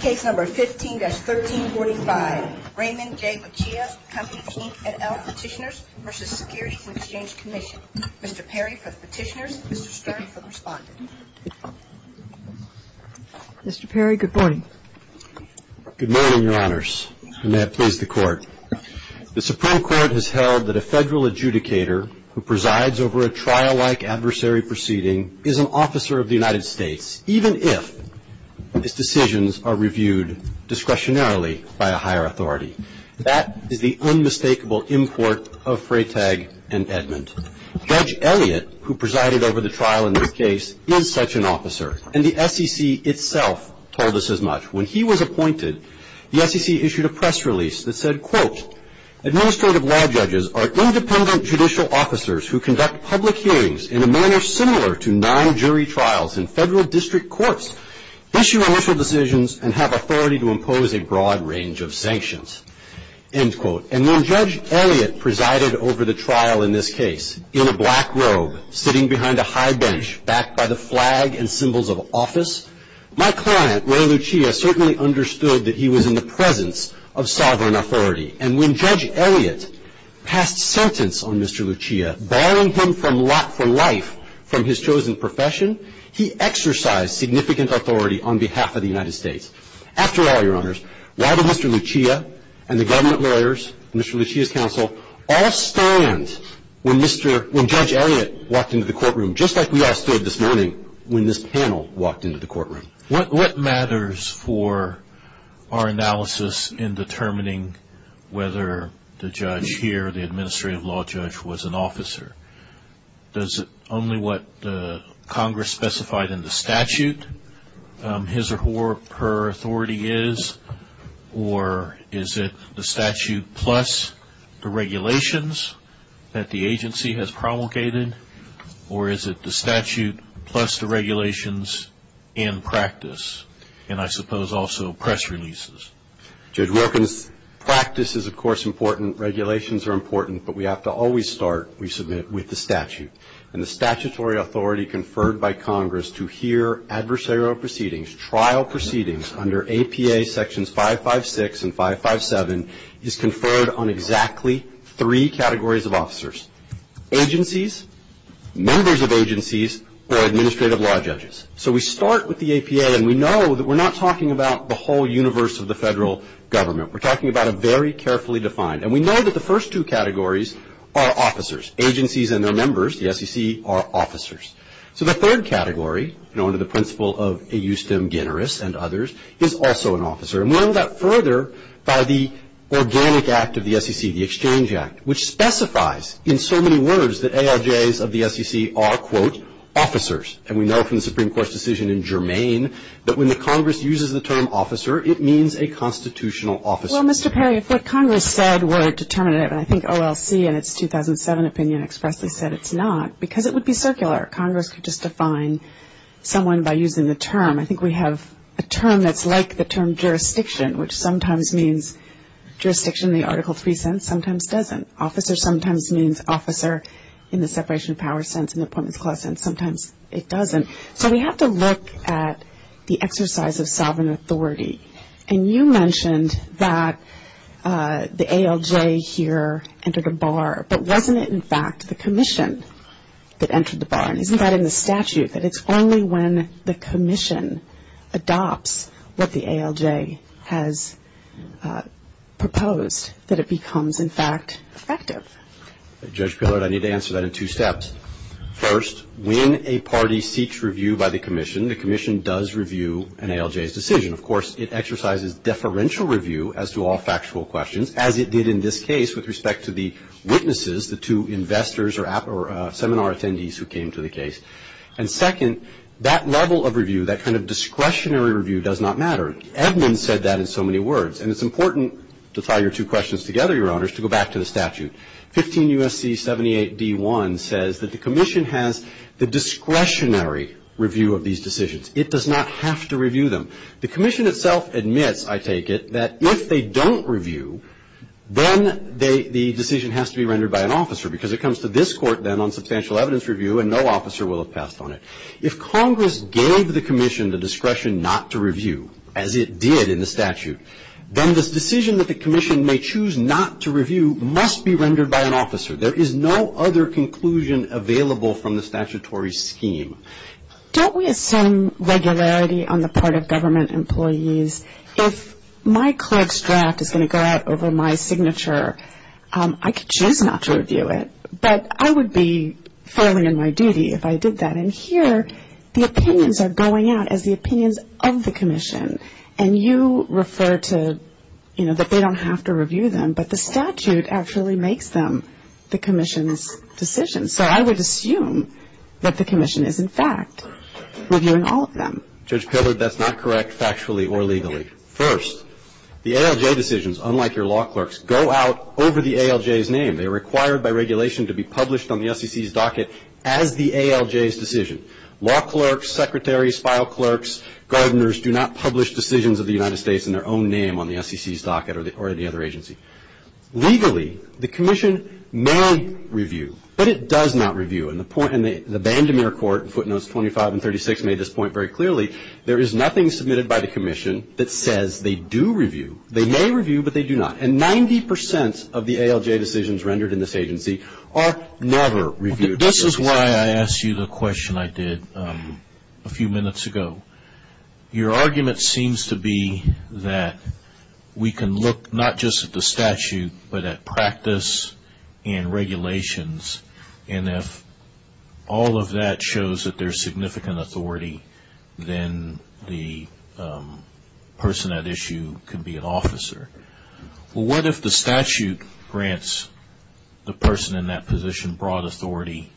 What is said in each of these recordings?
Case No. 15-1345, Raymond J. Peccia, Companies, Inc. and L. Petitioners v. Securities and Exchange Commission. Mr. Perry for Petitioners, Mr. Stern for Respondents. Mr. Perry, good morning. Good morning, Your Honors, and may it please the Court. The Supreme Court has held that a federal adjudicator who presides over a trial-like adversary proceeding is an officer of the United States, even if his decisions are reviewed discretionarily by a higher authority. That is the unmistakable import of Freytag and Edmond. Judge Elliott, who presided over the trial in this case, is such an officer, and the SEC itself told us as much. When he was appointed, the SEC issued a press release that said, And when Judge Elliott presided over the trial in this case, in a black robe, sitting behind a high bench backed by the flag and symbols of office, my client, Ray Lucia, certainly understood that he was in the presence of sovereign authority. And when Judge Elliott passed sentence on Mr. Lucia, barring him from lot for life from his chosen profession, he exercised significant authority on behalf of the United States. After all, Your Honors, why did Mr. Lucia and the government lawyers, Mr. Lucia's counsel, all stand when Judge Elliott walked into the courtroom, just like we all stood this morning when this panel walked into the courtroom? What matters for our analysis in determining whether the judge here, the administrative law judge, was an officer? Is it only what Congress specified in the statute, his or her authority is? Or is it the statute plus the regulations that the agency has promulgated? Or is it the statute plus the regulations in practice? And I suppose also press releases. Judge Wilkins, practice is, of course, important. Regulations are important. But we have to always start, we submit, with the statute. And the statutory authority conferred by Congress to hear adversarial proceedings, trial proceedings, under APA Sections 556 and 557 is conferred on exactly three categories of officers. Agencies, members of agencies, or administrative law judges. So we start with the APA. And we know that we're not talking about the whole universe of the federal government. We're talking about a very carefully defined. And we know that the first two categories are officers. Agencies and their members, the SEC, are officers. So the third category, under the principle of a eustem generis and others, is also an officer. And we end up further by the organic act of the SEC, the Exchange Act, which specifies in so many words that ALJs of the SEC are, quote, officers. And we know from the Supreme Court's decision in Germain that when the Congress uses the term officer, it means a constitutional officer. Well, Mr. Perry, if what Congress said were determinative, and I think OLC in its 2007 opinion expressly said it's not, because it would be circular. Congress would just define someone by using the term. I think we have a term that's like the term jurisdiction, which sometimes means jurisdiction in the Article III sense, sometimes doesn't. Officer sometimes means officer in the separation of powers sense, in the appointment clause sense, sometimes it doesn't. So we have to look at the exercise of sovereign authority. And you mentioned that the ALJ here entered a bar, but wasn't it, in fact, the commission that entered the bar? And isn't that in the statute that it's only when the commission adopts what the ALJ has proposed that it becomes, in fact, effective? Judge Pillard, I need to answer that in two steps. First, when a party seeks review by the commission, the commission does review an ALJ's decision. Of course, it exercises deferential review as to all factual questions, as it did in this case with respect to the witnesses, the two investors or seminar attendees who came to the case. And second, that level of review, that kind of discretionary review does not matter. Edmunds said that in so many words. And it's important to tie your two questions together, Your Honors, to go back to the statute. 15 U.S.C. 78d1 says that the commission has the discretionary review of these decisions. It does not have to review them. The commission itself admits, I take it, that if they don't review, then the decision has to be rendered by an officer because it comes to this court then on substantial evidence review and no officer will have passed on it. If Congress gave the commission the discretion not to review, as it did in the statute, then the decision that the commission may choose not to review must be rendered by an officer. There is no other conclusion available from the statutory scheme. Don't we assume regularity on the part of government employees? If my clerk's draft is going to go out over my signature, I get a chance not to review it, but I would be failing in my duty if I did that. And here, the opinions are going out as the opinions of the commission. And you refer to, you know, that they don't have to review them, but the statute actually makes them the commission's decision. So I would assume that the commission is, in fact, reviewing all of them. Judge Pillard, that's not correct factually or legally. First, the ALJ decisions, unlike your law clerks, go out over the ALJ's name. They are required by regulation to be published on the SEC's docket as the ALJ's decision. Law clerks, secretaries, file clerks, gardeners do not publish decisions of the United States in their own name on the SEC's docket or any other agency. Legally, the commission may review, but it does not review. And the Bandemere Court in footnotes 25 and 36 made this point very clearly. There is nothing submitted by the commission that says they do review. They may review, but they do not. And 90% of the ALJ decisions rendered in this agency are never reviewed. This is why I asked you the question I did a few minutes ago. Your argument seems to be that we can look not just at the statute, but at practice and regulations, and if all of that shows that there is significant authority, then the person at issue can be an officer. What if the statute grants the person in that position broad authority,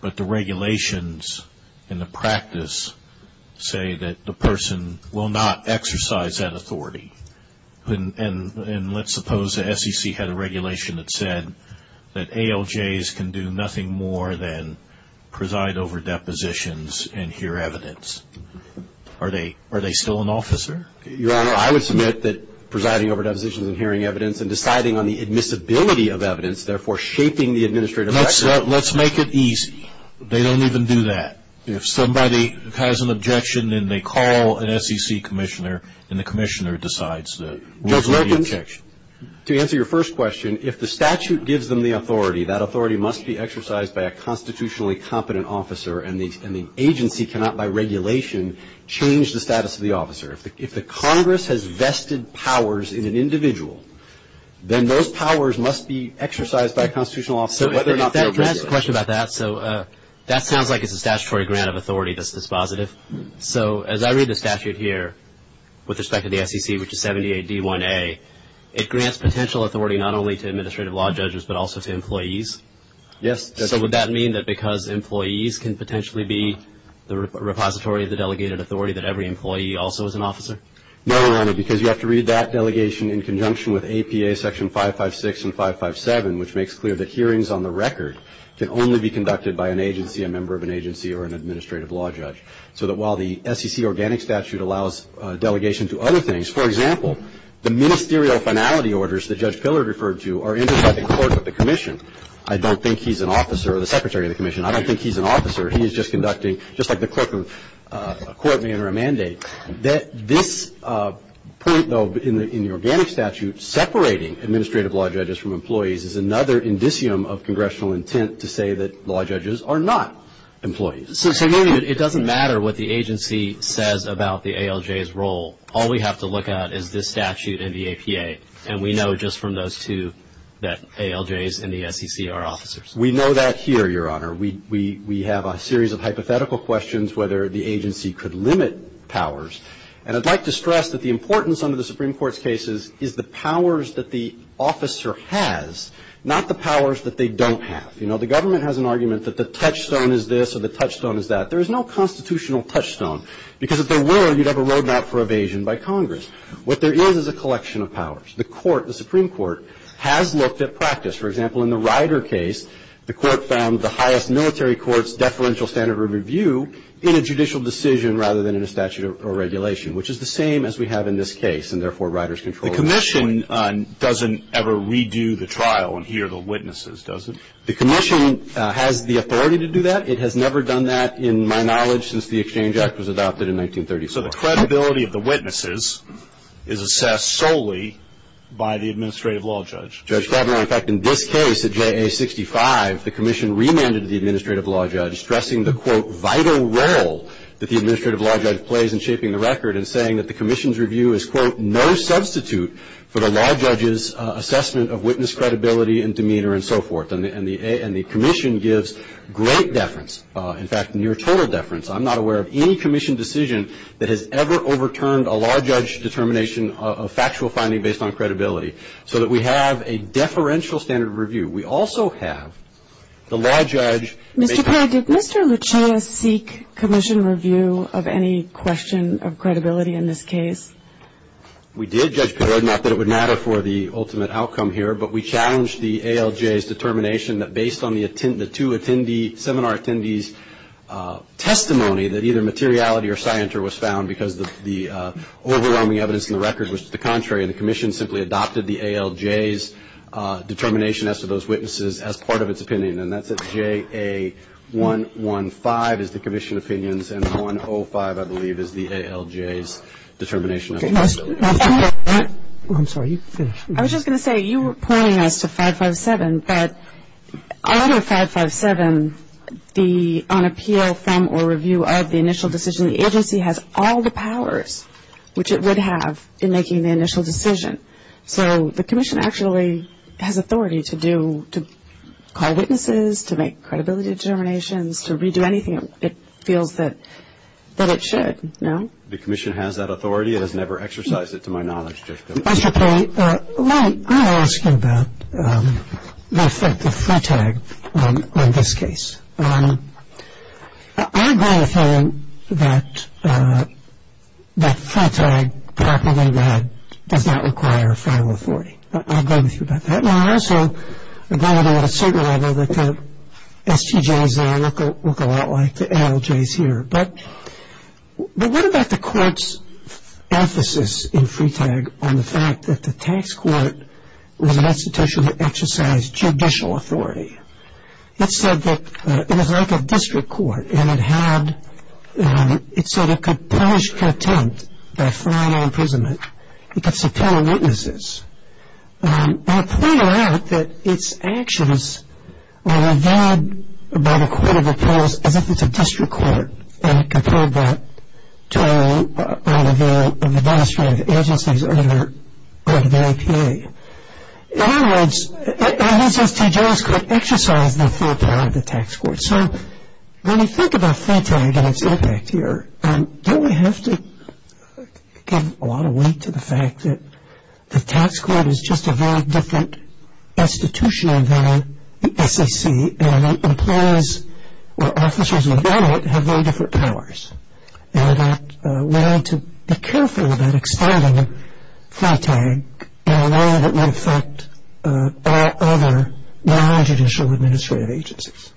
but the regulations and the practice say that the person will not exercise that authority? And let's suppose the SEC had a regulation that said that ALJs can do nothing more than preside over depositions and hear evidence. Are they still an officer? Your Honor, I would submit that presiding over depositions and hearing evidence and deciding on the admissibility of evidence, therefore shaping the administrative action. Let's make it easy. They don't even do that. If somebody has an objection, then they call an SEC commissioner, and the commissioner decides what is the objection. To answer your first question, if the statute gives them the authority, that authority must be exercised by a constitutionally competent officer, and the agency cannot, by regulation, change the status of the officer. If the Congress has vested powers in an individual, then those powers must be exercised by a constitutional officer. Let me ask a question about that. That sounds like it's a statutory grant of authority that's dispositive. So as I read the statute here with respect to the SEC, which is 78D1A, it grants potential authority not only to administrative law judges but also to employees? Yes. So would that mean that because employees can potentially be the repository of the delegated authority, that every employee also is an officer? No, Your Honor, because you have to read that delegation in conjunction with APA section 556 and 557, which makes clear that hearings on the record can only be conducted by an agency, a member of an agency, or an administrative law judge. So that while the SEC organic statute allows delegation to other things, for example, the ministerial finality orders that Judge Filler referred to are intersecting court with the commission. I don't think he's an officer or the secretary of the commission. I don't think he's an officer. He is just conducting, just like the clerk of a court may enter a mandate. This point, though, in the organic statute, separating administrative law judges from employees is another indicium of congressional intent to say that law judges are not employees. It doesn't matter what the agency says about the ALJ's role. All we have to look at is this statute and the APA, and we know just from those two that ALJs and the SEC are officers. We know that here, Your Honor. We have a series of hypothetical questions whether the agency could limit powers, and I'd like to stress that the importance under the Supreme Court's cases is the powers that the officer has, not the powers that they don't have. You know, the government has an argument that the touchstone is this or the touchstone is that. There is no constitutional touchstone, because if there were, you'd have a roadmap for evasion by Congress. What there is is a collection of powers. The Supreme Court has looked at practice. For example, in the Ryder case, the court found the highest military court's deferential standard of review in a judicial decision rather than in a statute or regulation, which is the same as we have in this case, and therefore Ryder's control of the statute. The commission doesn't ever redo the trial and hear the witnesses, does it? The commission has the authority to do that. It has never done that, in my knowledge, since the Exchange Act was adopted in 1934. So the credibility of the witnesses is assessed solely by the administrative law judge? In fact, in this case at JA 65, the commission remanded the administrative law judge, stressing the, quote, vital role that the administrative law judge plays in shaping the record and saying that the commission's review is, quote, no substitute for the law judge's assessment of witness credibility and demeanor and so forth. And the commission gives great deference, in fact, near total deference. I'm not aware of any commission decision that has ever overturned a law judge's determination of factual finding based on credibility so that we have a deferential standard of review. We also have the law judge. Mr. Perry, did Mr. Luchina seek commission review of any question of credibility in this case? We did, Judge Perry, not that it would matter for the ultimate outcome here, but we challenged the ALJ's determination that based on the two seminar attendees' testimony that either materiality or scienter was found because the overwhelming evidence in the record was the contrary and the commission simply adopted the ALJ's determination as to those witnesses as part of its opinion. And that's at JA 115 is the commission's opinions and 105, I believe, is the ALJ's determination. I was just going to say, you were pointing us to 557, but on 557, on appeal from or review of the initial decision, the agency has all the powers, which it would have in making the initial decision. So the commission actually has authority to call witnesses, to make credibility determinations, to redo anything it feels that it should, no? The commission has that authority. It has never exercised it to my knowledge, Judge Perry. Well, I'm going to ask you about the effect of Freetag on this case. I agree with him that Freetag, properly read, does not require a final authority. But I agree with you about that. And I also agree with him at a certain level that the STJs there look a lot like the ALJs here. But what about the court's emphasis in Freetag on the fact that the tax court was an institution that exercised judicial authority? It said that it was like a district court, and it had, it said it could punish contempt by fine or imprisonment. It gets to tell witnesses. And it pointed out that its actions were regarded by the court of appeals as if it's a district court, and it compared that to all of the administrative agencies under the WHA. In other words, the STJs could exercise the full power of the tax court. So, when you think about Freetag and its impact here, you really have to give a lot of weight to the fact that the tax court is just a very different institution than the SAC, and the employees or officials involved in it have very different powers. And we have to be careful about expanding Freetag in a way that would affect all other non-judicial administrative agencies.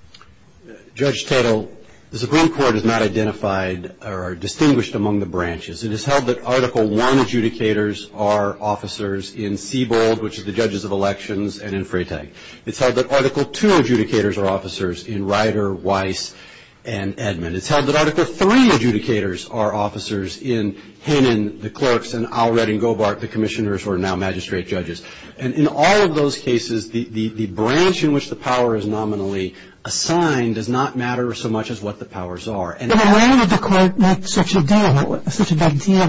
Judge Tittle, the Supreme Court has not identified or distinguished among the branches. It has held that Article I adjudicators are officers in Siebold, which is the judges of elections, and in Freetag. It's held that Article II adjudicators are officers in Ryder, Weiss, and Edmund. It's held that Article III adjudicators are officers in Hannon, the clerks, and Allred and Gobart, the commissioners who are now magistrate judges. And in all of those cases, the branch in which the power is nominally assigned does not matter so much as what the powers are. But why did the court not set such a deal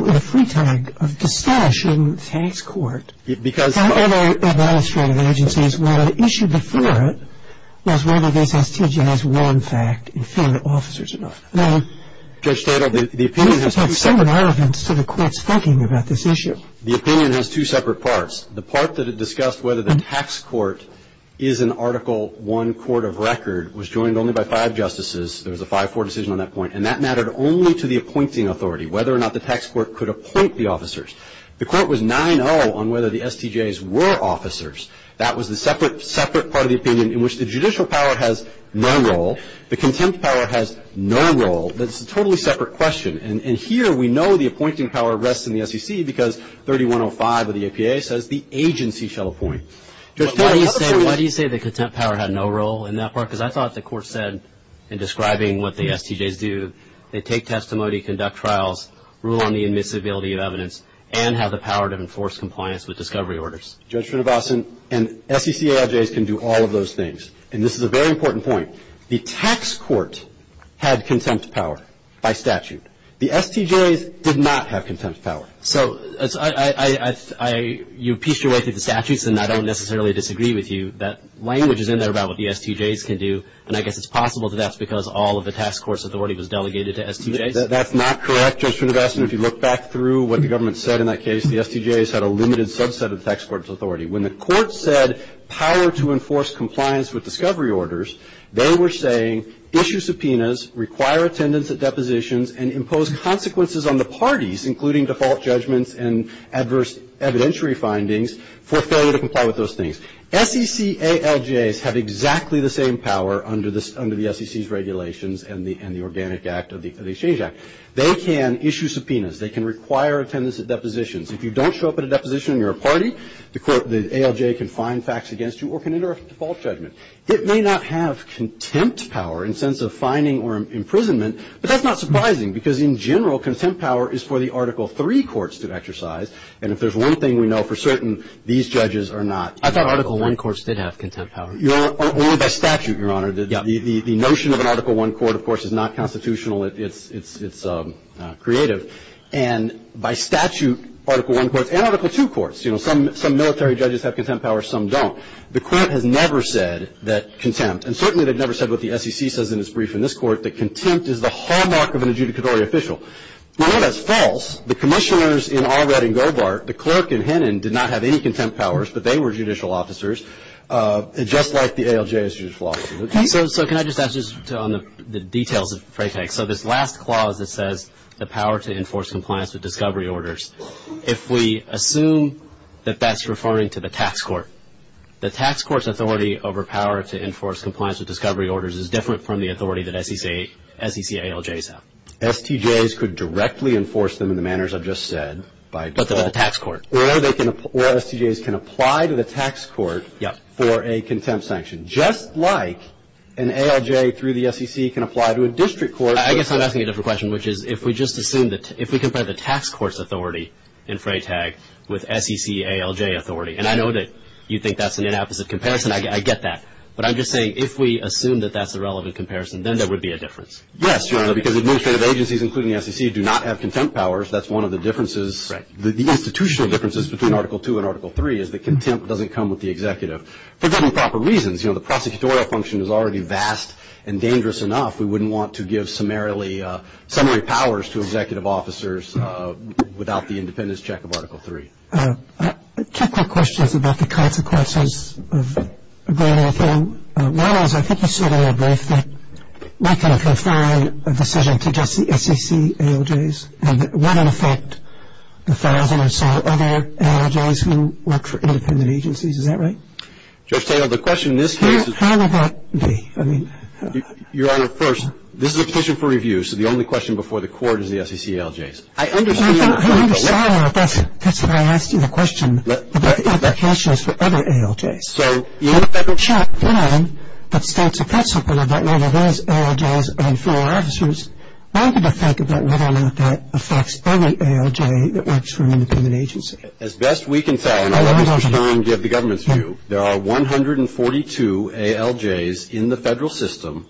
with Freetag of distinguishing tax court from other administrative agencies when the issue before it was whether they had to generalize one fact in favor of officers involved? Judge Tittle, the opinion has two separate parts. The part that had discussed whether the tax court is an Article I court of record was joined only by five justices. There was a 5-4 decision on that point. And that mattered only to the appointing authority, whether or not the tax court could appoint the officers. The court was 9-0 on whether the STJs were officers. That was a separate part of the opinion in which the judicial power has no role. The contempt power has no role. That's a totally separate question. And here we know the appointing power rests in the SEC because 3105 of the APA says the agency shall appoint. Judge Tittle, why do you say the contempt power had no role in that part? Because I thought the court said in describing what the STJs do, they take testimony, conduct trials, rule on the admissibility of evidence, and have the power to enforce compliance with discovery orders. Judge Finnebausen, and SEC AIJs can do all of those things. And this is a very important point. The tax court had contempt power by statute. The STJs did not have contempt power. So you pieced your way through the statutes, and I don't necessarily disagree with you. That language is in there about what the STJs can do, and I guess it's possible that that's because all of the tax court's authority was delegated to STJs. That's not correct, Judge Finnebausen. If you look back through what the government said in that case, the STJs had a limited subset of the tax court's authority. When the court said power to enforce compliance with discovery orders, they were saying issue subpoenas, require attendance at depositions, and impose consequences on the parties, including default judgments and adverse evidentiary findings, for failure to comply with those things. SEC ALJs have exactly the same power under the SEC's regulations and the Organic Act of the Exchange Act. They can issue subpoenas. They can require attendance at depositions. If you don't show up at a deposition and you're a party, the ALJ can find facts against you or can enter a default judgment. It may not have contempt power in the sense of fining or imprisonment, but that's not surprising because, in general, contempt power is for the Article III courts to exercise, and if there's one thing we know for certain, these judges are not. I thought Article I courts did have contempt power. Only by statute, Your Honor. The notion of an Article I court, of course, is not constitutional. It's creative. And by statute, Article I courts and Article II courts, you know, some military judges have contempt power, some don't. The court has never said that contempt, in this court, that contempt is the hallmark of an adjudicatory official. If that's false, the commissioners in Allred and Govart, the clerk in Hennon, did not have any contempt powers, but they were judicial officers, just like the ALJ's judicial officers. So can I just ask, just on the details of the fray peg, so this last clause that says the power to enforce compliance with discovery orders, if we assume that that's referring to the tax court, the tax court's authority over power to enforce compliance with discovery orders is different from the authority that SEC ALJs have. STJs could directly enforce them in the manners I've just said. But the tax court. Or STJs can apply to the tax court for a contempt sanction, just like an ALJ through the SEC can apply to a district court. I guess I'm asking a different question, which is if we just assume that, if we compare the tax court's authority in fray tag with SEC ALJ authority, and I know that you think that's an inappropriate comparison. I get that. But I'm just saying if we assume that that's a relevant comparison, then there would be a difference. Yes, Your Honor, because administrative agencies, including SEC, do not have contempt powers. That's one of the differences. The institutional differences between Article II and Article III is that contempt doesn't come with the executive. For very improper reasons. You know, the prosecutorial function is already vast and dangerous enough. We wouldn't want to give summarily powers to executive officers without the independence check of Article III. Two quick questions about the consequences of going off. One is I think you said in your brief that we can't go far on a decision to get the SEC ALJs, and that it wouldn't affect a thousand or so other ALJs who work for independent agencies. Is that right? Judge Stahel, the question in this case is... How would that be? Your Honor, first, this is a petition for review, so the only question before the court is the SEC ALJs. I understand... Your Honor, that's why I asked you the question. The question is for other ALJs. So... You know, the federal... In short, Your Honor, that's a consequence of whether those ALJs and federal officers... I'm going to think about whether or not that affects every ALJ that works for an independent agency. As best we can find... I don't know... I'm not sure we can give the government's view. There are 142 ALJs in the federal system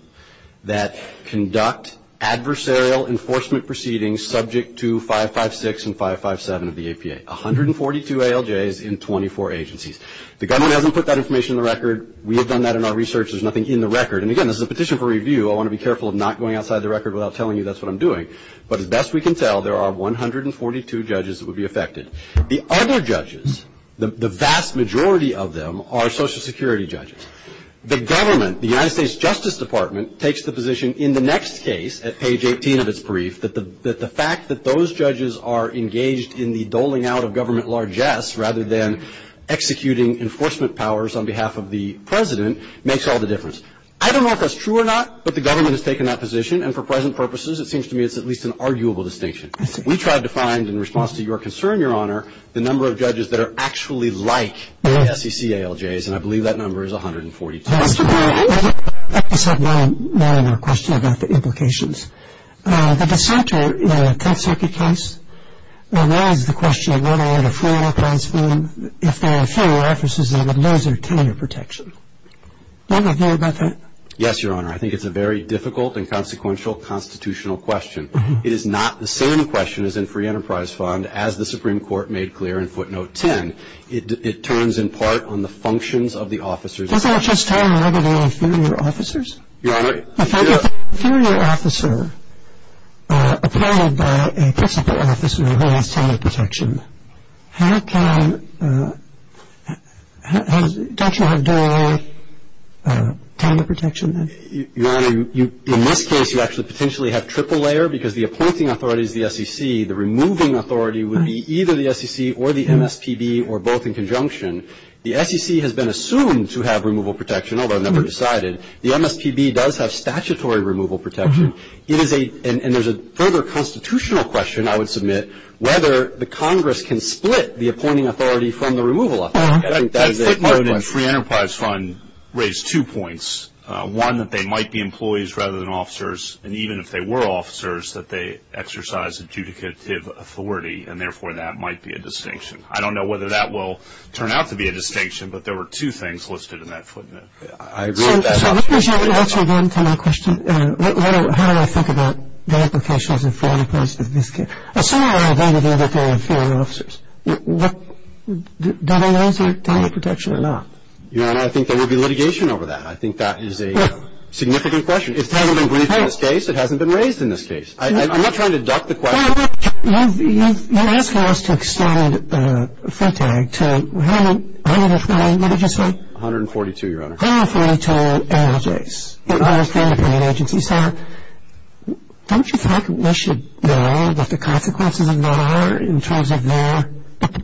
that conduct adversarial enforcement proceedings subject to 556 and 557 of the APA. 142 ALJs in 24 agencies. The government hasn't put that information on the record. We have done that in our research. There's nothing in the record. And again, this is a petition for review. I want to be careful of not going outside the record without telling you that's what I'm doing. But as best we can tell, there are 142 judges that would be affected. The other judges, the vast majority of them, are Social Security judges. The government, the United States Justice Department, takes the position in the next case, at page 18 of its brief, that the fact that those judges are engaged in the doling out of government largesse rather than executing enforcement powers on behalf of the president makes all the difference. I don't know if that's true or not, but the government has taken that position. And for present purposes, it seems to me it's at least an arguable distinction. We tried to find, in response to your concern, Your Honor, the number of judges that are actually like SEC ALJs, and I believe that number is 142. I just have one other question about the implications. The DeSanto consecutive case, and that is the question of whether or not a federal consulate, if there are federal offices there, would lose their tenure protection. Do you have an idea about that? Yes, Your Honor. I think it's a very difficult and consequential constitutional question. It is not the same question as in Free Enterprise Fund, as the Supreme Court made clear in footnote 10. It turns in part on the functions of the officers. I think I was just talking about the inferior officers. Your Honor. If there's a inferior officer appointed by a principal office and they lose tenure protection, how can a judge have no tenure protection? Your Honor, in this case, you actually potentially have triple layer because the appointing authority is the SEC. The removing authority would be either the SEC or the MSPB or both in conjunction. The SEC has been assumed to have removal protection, although never decided. The MSPB does have statutory removal protection. And there's a further constitutional question, I would submit, whether the Congress can split the appointing authority from the removal authority. I think that is a good question. I think the Free Enterprise Fund raised two points. One, that they might be employees rather than officers, and even if they were officers, that they exercise adjudicative authority, and therefore that might be a distinction. I don't know whether that will turn out to be a distinction, but there were two things listed in that statement. I agree with that. So let me hear you answer again to my question. How do I think about the implications of this case? Assuming that they were the inferior officers, do they lose their tenure protection or not? Your Honor, I think there would be litigation over that. I think that is a significant question. It hasn't been raised in this case. It hasn't been raised in this case. I'm not trying to duck the question. You asked for us to extend the fund tag to 142. What did you say? 142, Your Honor. 142 employees. It was the independent agency. So don't you think they should know what the consequences of that are in terms of their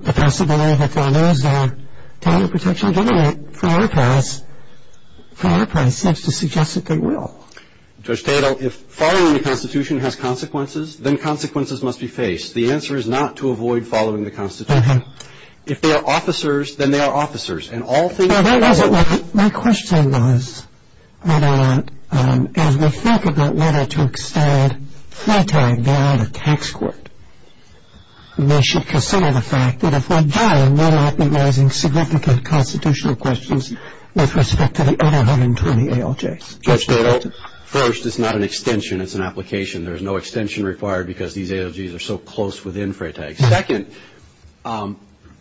possibility of losing their tenure protection given it for their price? For their price. That's to suggest that they will. Judge Tatel, if following the Constitution has consequences, then consequences must be faced. The answer is not to avoid following the Constitution. If they are officers, then they are officers. My question was, Your Honor, as we think about whether to extend the fund tag beyond a tax court, they should consider the fact that if they're dying, they're likely raising significant constitutional questions with respect to the 820 ALJs. First, it's not an extension. It's an application. There is no extension required because these ALJs are so close within FRAE tags. Second,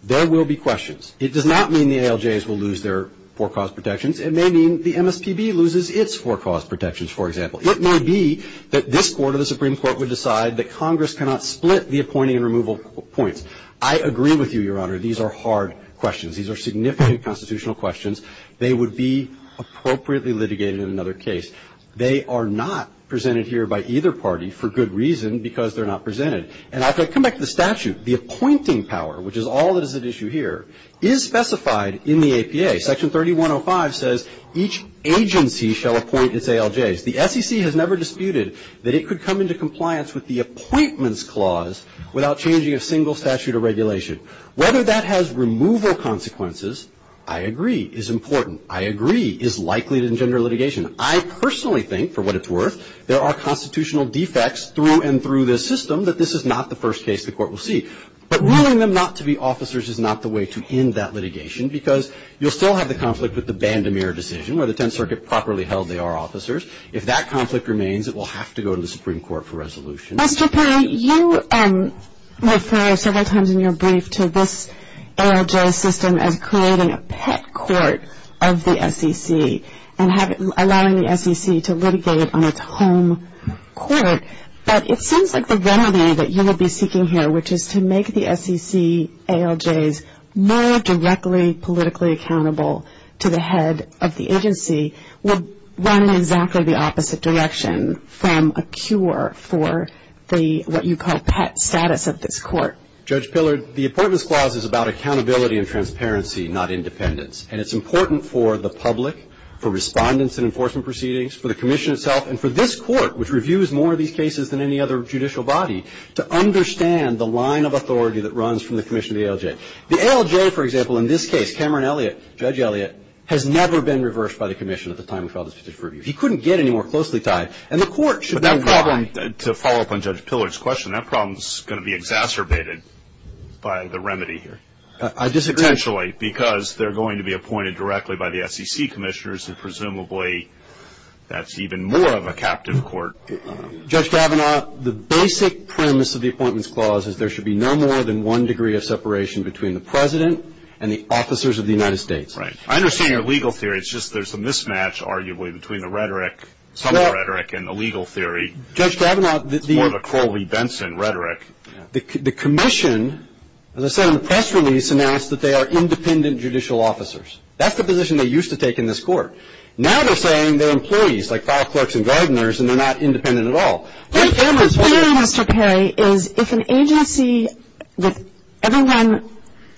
there will be questions. It does not mean the ALJs will lose their forecast protections. It may mean the MSPB loses its forecast protections, for example. It may be that this Court or the Supreme Court would decide that Congress cannot split the appointing and removal points. I agree with you, Your Honor. These are hard questions. These are significant constitutional questions. They would be appropriately litigated in another case. They are not presented here by either party, for good reason, because they're not presented. And I'll come back to the statute. The appointing power, which is all that is at issue here, is specified in the APA. Section 3105 says each agency shall appoint its ALJs. The SEC has never disputed that it could come into compliance with the appointments clause without changing a single statute or regulation. Whether that has removal consequences, I agree, is important. I agree, is likely to engender litigation. I personally think, for what it's worth, there are constitutional defects through and through this system, that this is not the first case the Court will see. But ruling them not to be officers is not the way to end that litigation because you'll still have the conflict with the Band-O-Mir decision. Whether 10th Circuit properly held they are officers. If that conflict remains, it will have to go to the Supreme Court for resolution. Mr. Perry, you referred several times in your brief to this ALJ system of creating a pet court of the SEC and allowing the SEC to litigate on its home court. But it seems like the remedy that you would be seeking here, which is to make the SEC ALJs more directly politically accountable to the head of the agency, would run in exactly the opposite direction from a cure for the, what you call, pet status of this Court. Judge Pillard, the appointments clause is about accountability and transparency, not independence. And it's important for the public, for respondents in enforcement proceedings, for the Commission itself, and for this Court, which reviews more of these cases than any other judicial body, to understand the line of authority that runs from the Commission of the ALJ. The ALJ, for example, in this case, Cameron Elliott, Judge Elliott, has never been reversed by the Commission at the time we filed this interview. He couldn't get any more closely tied. And the Court should be... But that problem, to follow up on Judge Pillard's question, that problem is going to be exacerbated by the remedy here. I disagree. Potentially, because they're going to be appointed directly by the SEC commissioners, and presumably that's even more of a captive court. Judge Stravina, the basic premise of the appointments clause is there should be no more than one degree of separation between the President and the officers of the United States. Right. I understand your legal theory. It's just there's a mismatch, arguably, between the rhetoric, some of the rhetoric, and the legal theory. Judge Stravina, the... More of a Crowley-Benson rhetoric. The Commission, as I said in the press release, announced that they are independent judicial officers. That's the position they used to take in this Court. Now they're saying they're employees, like file clerks and gardeners, and they're not independent at all. What I'm saying, Mr. Perry, is if an agency, everyone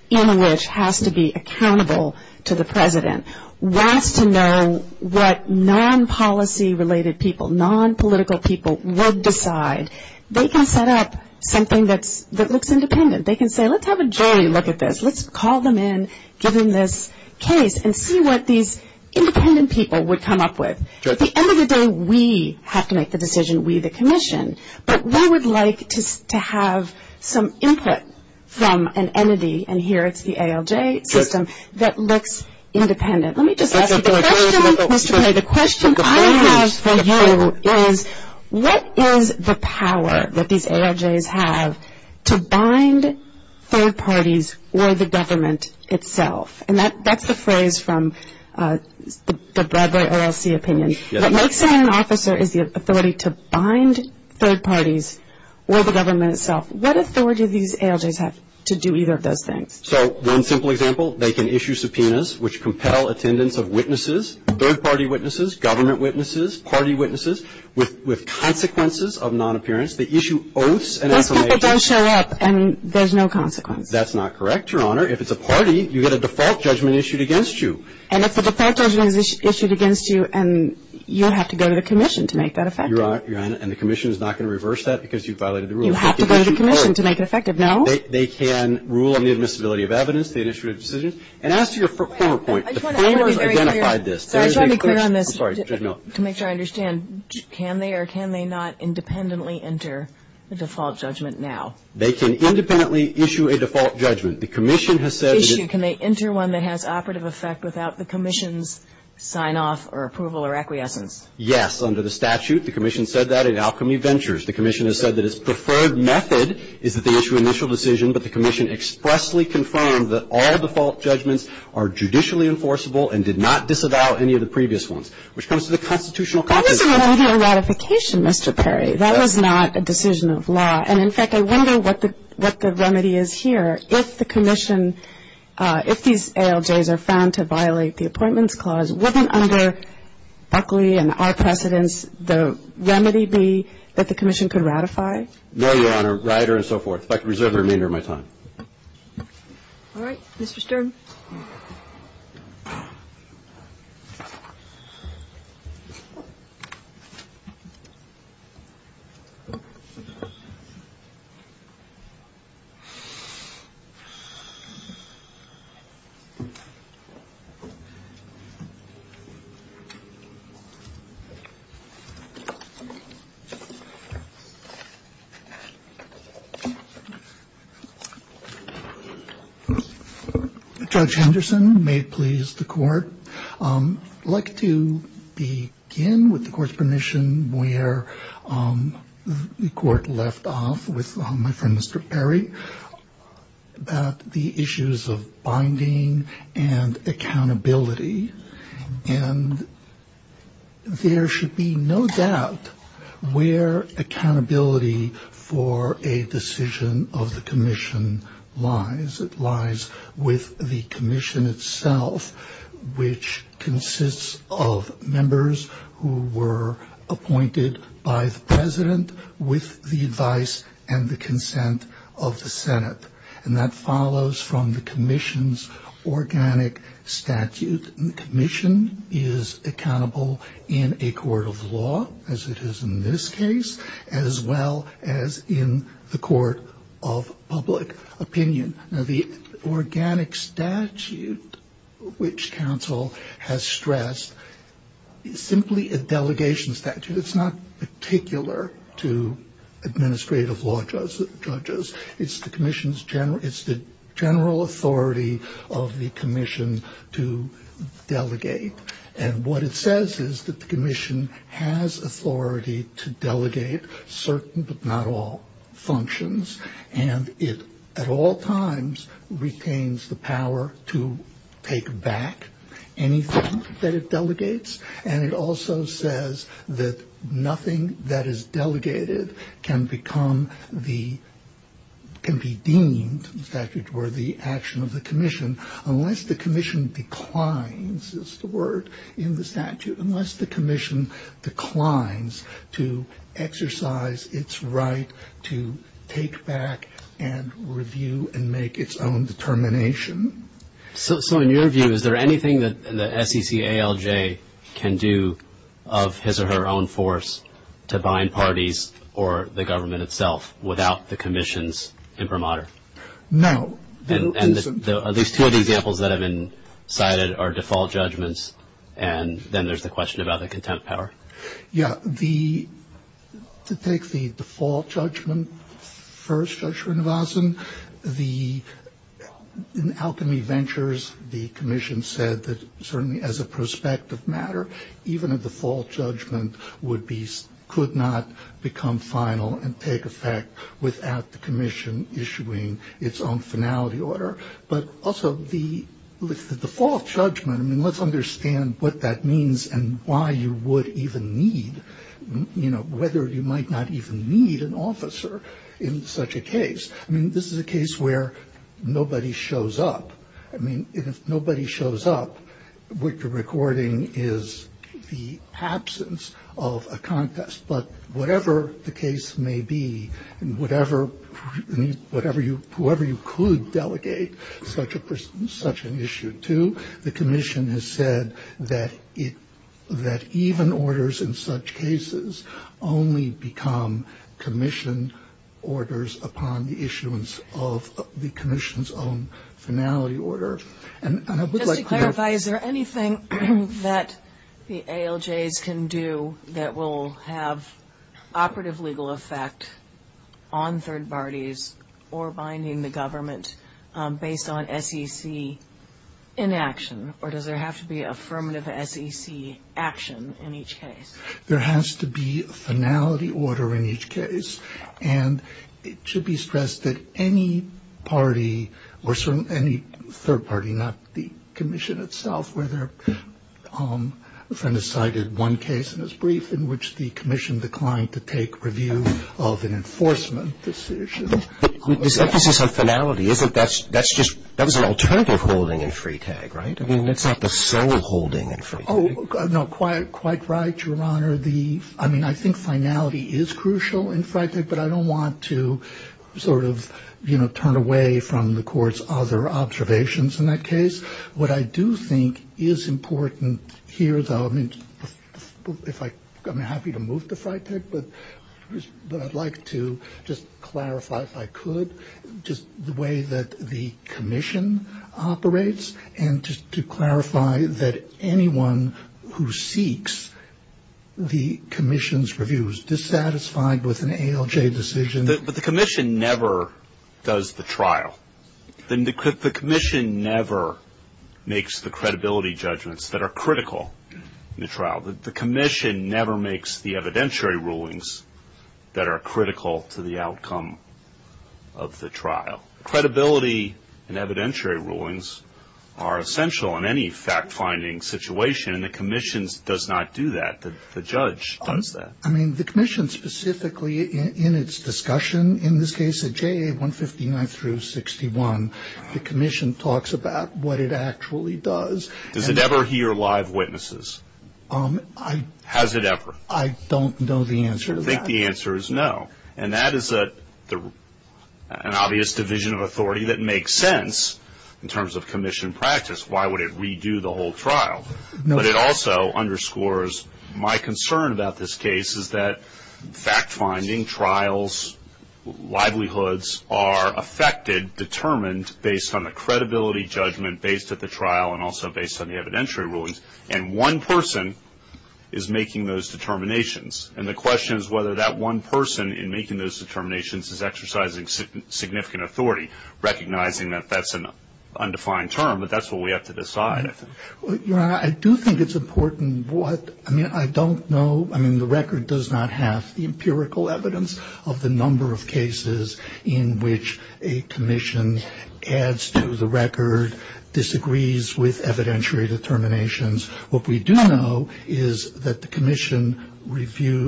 in which has to be accountable to the President, wants to know what non-policy-related people, non-political people, would decide, they can set up something that looks independent. They can say, let's have a jury look at this. Let's call them in, give them this case, and see what these independent people would come up with. At the end of the day, we have to make the decision. We, the Commission. But we would like to have some input from an entity, and here it's the ALJ system, that looks independent. Let me just ask you a question, Mr. Perry. The question I have for you is, what is the power that these ALJs have to bind third parties or the government itself? And that's a phrase from the Broadway LLC opinion. What makes them an officer is the authority to bind third parties or the government itself. What authority do these ALJs have to do either of those things? So, one simple example, they can issue subpoenas which compel attendance of witnesses, third-party witnesses, government witnesses, party witnesses, with consequences of non-appearance. They issue oaths and affirmations. But people don't show up, and there's no consequence. That's not correct, Your Honor. If it's a party, you get a default judgment issued against you. And if a default judgment is issued against you, you have to go to the Commission to make that effective. Your Honor, and the Commission is not going to reverse that because you violated the rules. You have to go to the Commission to make it effective, no? They can rule on the admissibility of evidence. They issue decisions. And as to your former point, the Court has identified this. I just want to be clear on this to make sure I understand. Can they or can they not independently enter a default judgment now? They can independently issue a default judgment. The Commission has said that... Can they enter one that has operative effect without the Commission's sign-off or approval or acquiescence? Yes, under the statute. The Commission said that in Alchemy Ventures. The Commission has said that its preferred method is that they issue an initial decision, but the Commission expressly confirmed that all default judgments are judicially enforceable and did not disavow any of the previous ones, which comes to the constitutional... That was a remedy of ratification, Mr. Perry. That was not a decision of law. And, in fact, I wonder what the remedy is here. If the Commission, if these ALJs are found to violate the Appointments Clause, wouldn't under Oakley and our precedents the remedy be that the Commission could ratify? No, Your Honor. Rider and so forth. In fact, reserve your remainder of my time. All right. Judge Henderson, may it please the Court. I'd like to begin with the Court's permission where the Court left off with my friend, Mr. Perry, about the issues of binding and accountability. And there should be no doubt where accountability for a decision of the Commission lies. It lies with the Commission itself, which consists of members who were appointed by the President with the advice and the consent of the Senate. And that follows from the Commission's organic statute. The Commission is accountable in a court of law, as it is in this case, as well as in the court of public opinion. Now, the organic statute which counsel has stressed is simply a delegation statute. It's not particular to administrative law judges. It's the Commission's general authority of the Commission to delegate. And what it says is that the Commission has authority to delegate certain but not all functions. And it, at all times, retains the power to take back anything that it delegates. And it also says that nothing that is delegated can become the, can be deemed the statute worthy action of the Commission, unless the Commission declines, is the word in the statute, unless the Commission declines to exercise its right to take back and review and make its own determination. So in your view, is there anything that the SEC ALJ can do of his or her own force to bind parties or the government itself without the Commission's imprimatur? No. And the, at least two of the examples that have been cited are default judgments, and then there's the question about the contempt power. Yeah, the, to take the default judgment first, Judge Srinivasan, the, in Alchemy Ventures, the Commission said that certainly as a prospective matter, even a default judgment would be, could not become final and take effect without the Commission issuing its own finality order. But also the default judgment, I mean, let's understand what that means and why you would even need, you know, whether you might not even need an officer in such a case. I mean, this is a case where nobody shows up. I mean, if nobody shows up, what you're recording is the absence of a contest. But whatever the case may be, whatever you, whoever you could delegate such an issue to, the Commission has said that even orders in such cases only become Commission orders upon the issuance of the Commission's own finality order. Just to clarify, is there anything that the ALJs can do that will have operative legal effect on third parties or binding the government based on SEC inaction, or does there have to be affirmative SEC action in each case? There has to be a finality order in each case. And it should be stressed that any party, or any third party, not the Commission itself, whether a friend has cited one case in his brief in which the Commission declined to take review of an enforcement decision. But this emphasis on finality, isn't that, that's just, that was an alternative holding in FRETAG, right? I mean, that's not the sole holding in FRETAG. Oh, no, quite right, Your Honor. The, I mean, I think finality is crucial in FRETAG, but I don't want to sort of, you know, turn away from the Court's other observations in that case. What I do think is important here is, I mean, if I, I'm happy to move to FRETAG, but I'd like to just clarify, if I could, just the way that the Commission operates and just to clarify that anyone who seeks the Commission's review is dissatisfied with an ALJ decision. But the Commission never does the trial. The Commission never makes the credibility judgments that are critical in the trial. The Commission never makes the evidentiary rulings that are critical to the outcome of the trial. Now, credibility and evidentiary rulings are essential in any fact-finding situation, and the Commission does not do that. The judge does that. I mean, the Commission specifically in its discussion in this case of JA 159 through 61, the Commission talks about what it actually does. Does it ever hear live witnesses? Has it ever? I don't know the answer to that. I think the answer is no. And that is an obvious division of authority that makes sense in terms of Commission practice. Why would it redo the whole trial? But it also underscores my concern about this case is that fact-finding trials, livelihoods are affected, determined based on the credibility judgment based at the trial and also based on the evidentiary rulings, and one person is making those determinations. And the question is whether that one person in making those determinations is exercising significant authority, recognizing that that's an undefined term, but that's what we have to decide. I do think it's important what, I mean, I don't know, I mean, the record does not have the empirical evidence of the number of cases in which a Commission adds to the record, disagrees with evidentiary determinations. What we do know is that the Commission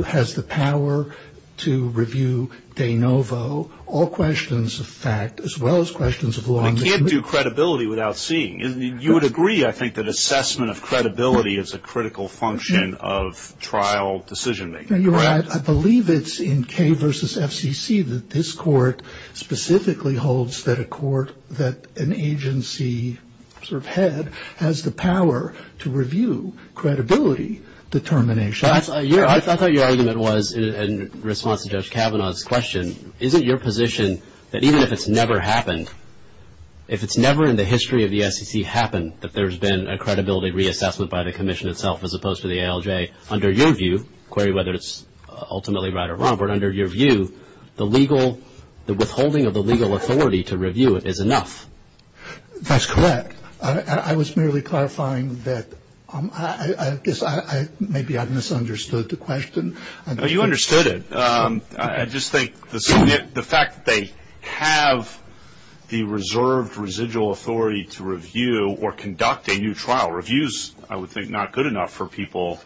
has the power to review de novo all questions of fact, as well as questions of law. I can't do credibility without seeing. You would agree, I think, that assessment of credibility is a critical function of trial decision-making. I believe it's in K versus FCC that this court specifically holds that a court, that an agency sort of head has the power to review credibility determination. That's what your argument was in response to Judge Kavanaugh's question. Isn't your position that even if it's never happened, if it's never in the history of the FCC happened, that there's been a credibility reassessment by the Commission itself as opposed to the ALJ, under your view, Corey, whether it's ultimately right or wrong, but under your view, the legal, the withholding of the legal authority to review it is enough? That's correct. I was merely clarifying that I guess maybe I misunderstood the question. No, you understood it. I just think the fact that they have the reserved residual authority to review or conduct a new trial reviews, I would think, not good enough for people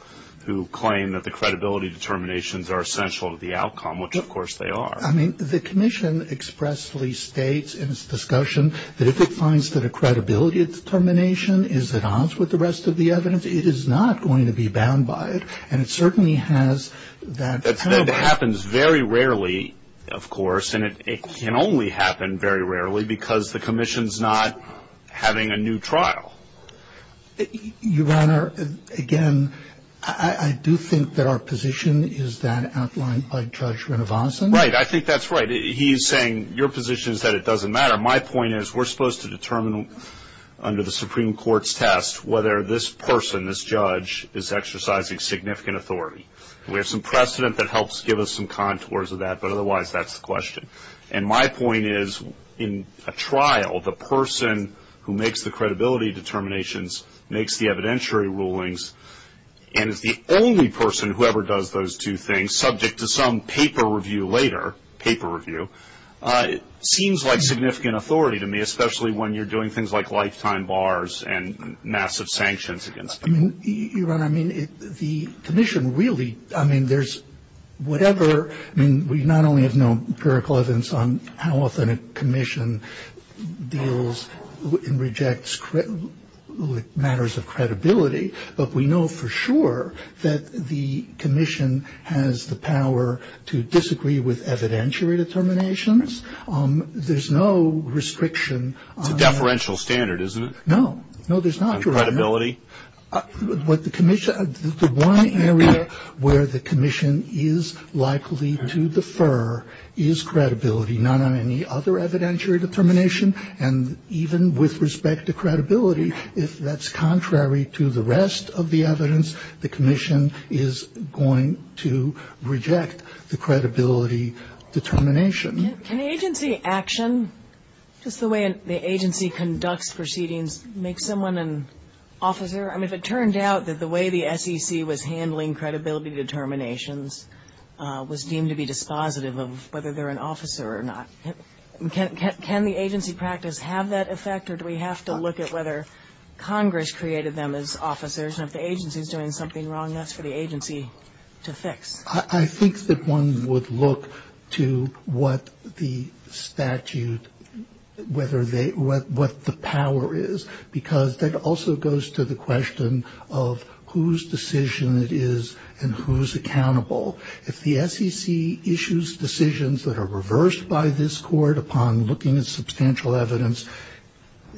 who claim that the credibility determinations are essential to the outcome, which, of course, they are. I mean, the Commission expressly states in its discussion that if it finds that a credibility determination is at odds with the rest of the evidence, it is not going to be bound by it. And it certainly has that power. That happens very rarely, of course, and it can only happen very rarely because the Commission's not having a new trial. Your Honor, again, I do think that our position is that outlined by Judge Renovason. Right, I think that's right. He's saying your position is that it doesn't matter. My point is we're supposed to determine under the Supreme Court's test whether this person, this judge, is exercising significant authority. We have some precedent that helps give us some contours of that, but otherwise that's the question. And my point is in a trial, the person who makes the credibility determinations makes the evidentiary rulings, and the only person who ever does those two things, subject to some paper review later, paper review, seems like significant authority to me, especially when you're doing things like lifetime bars and massive sanctions against them. Your Honor, I mean, the Commission really, I mean, there's whatever. I mean, we not only have no empirical evidence on how often a Commission deals and rejects matters of credibility, but we know for sure that the Commission has the power to disagree with evidentiary determinations. There's no restriction. A deferential standard, isn't it? No. No, there's not. On credibility? The one area where the Commission is likely to defer is credibility, not on any other evidentiary determination. And even with respect to credibility, if that's contrary to the rest of the evidence, the Commission is going to reject the credibility determination. Can agency action, just the way the agency conducts proceedings, make someone an officer? I mean, if it turned out that the way the SEC was handling credibility determinations was deemed to be dispositive of whether they're an officer or not, can the agency practice have that effect, or do we have to look at whether Congress created them as officers, and if the agency is doing something wrong, that's for the agency to fix. I think that one would look to what the statute, what the power is, because that also goes to the question of whose decision it is and who's accountable. If the SEC issues decisions that are reversed by this court upon looking at substantial evidence,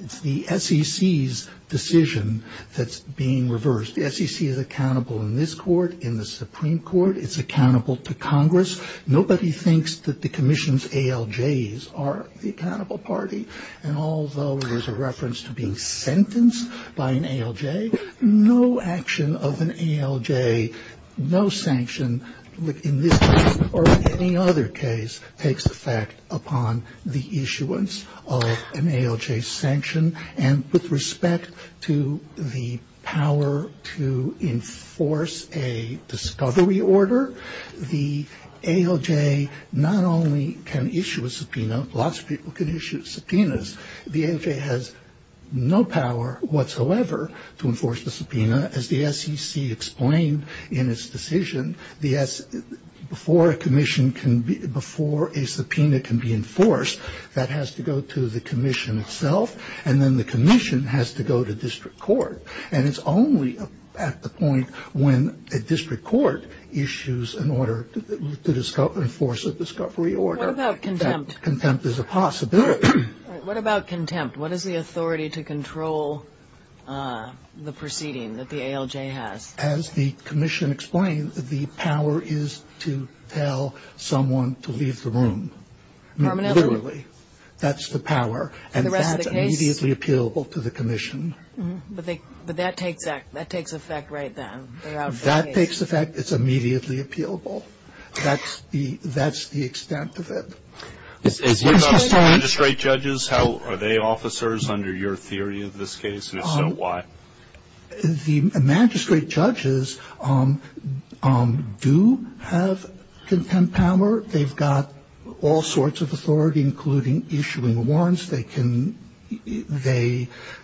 it's the SEC's decision that's being reversed. The SEC is accountable in this court, in the Supreme Court, it's accountable to Congress. Nobody thinks that the Commission's ALJs are the accountable party, and although there's a reference to being sentenced by an ALJ, no action of an ALJ, no sanction in this case or any other case takes effect upon the issuance of an ALJ sanction, and with respect to the power to enforce a discovery order, the ALJ not only can issue a subpoena, lots of people can issue subpoenas. The ALJ has no power whatsoever to enforce the subpoena. As the SEC explained in its decision, before a subpoena can be enforced, that has to go to the Commission itself, and then the Commission has to go to district court, and it's only at the point when a district court issues an order to enforce a discovery order. What about contempt? Contempt is a possibility. What about contempt? What is the authority to control the proceeding that the ALJ has? As the Commission explained, the power is to tell someone to leave the room. Literally, that's the power, and that's immediately appealable to the Commission. But that takes effect right then. That takes effect. It's immediately appealable. That's the extent of it. What about magistrate judges? Are they officers under your theory of this case, and if so, why? The magistrate judges do have contempt power. They've got all sorts of authority, including issuing warrants. They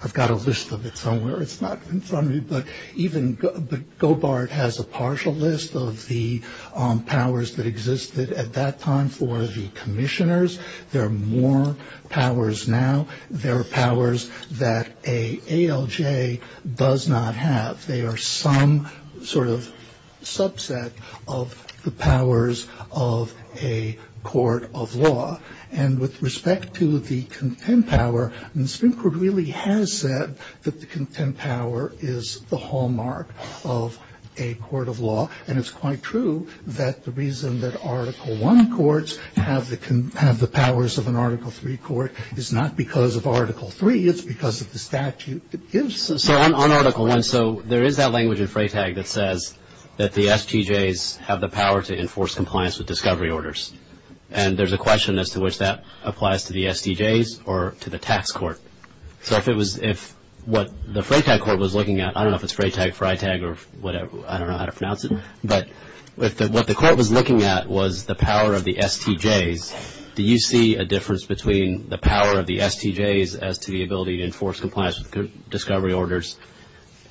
have got a list of it somewhere. It's not in front of me, but even Gobart has a partial list of the powers that existed at that time for the commissioners. There are more powers now. There are powers that an ALJ does not have. They are some sort of subset of the powers of a court of law. And with respect to the contempt power, Stinkford really has said that the contempt power is the hallmark of a court of law. And it's quite true that the reason that Article I courts have the powers of an Article III court is not because of Article III. It's because of the statute that gives it. So on Article I, so there is that language in FRATAG that says that the STJs have the power to enforce compliance with discovery orders, and there's a question as to which that applies to the STJs or to the tax court. So if what the FRATAG court was looking at, I don't know if it's FRATAG, FRITAG, or whatever, I don't know how to pronounce it, but what the court was looking at was the power of the STJs. Do you see a difference between the power of the STJs as to the ability to enforce compliance with discovery orders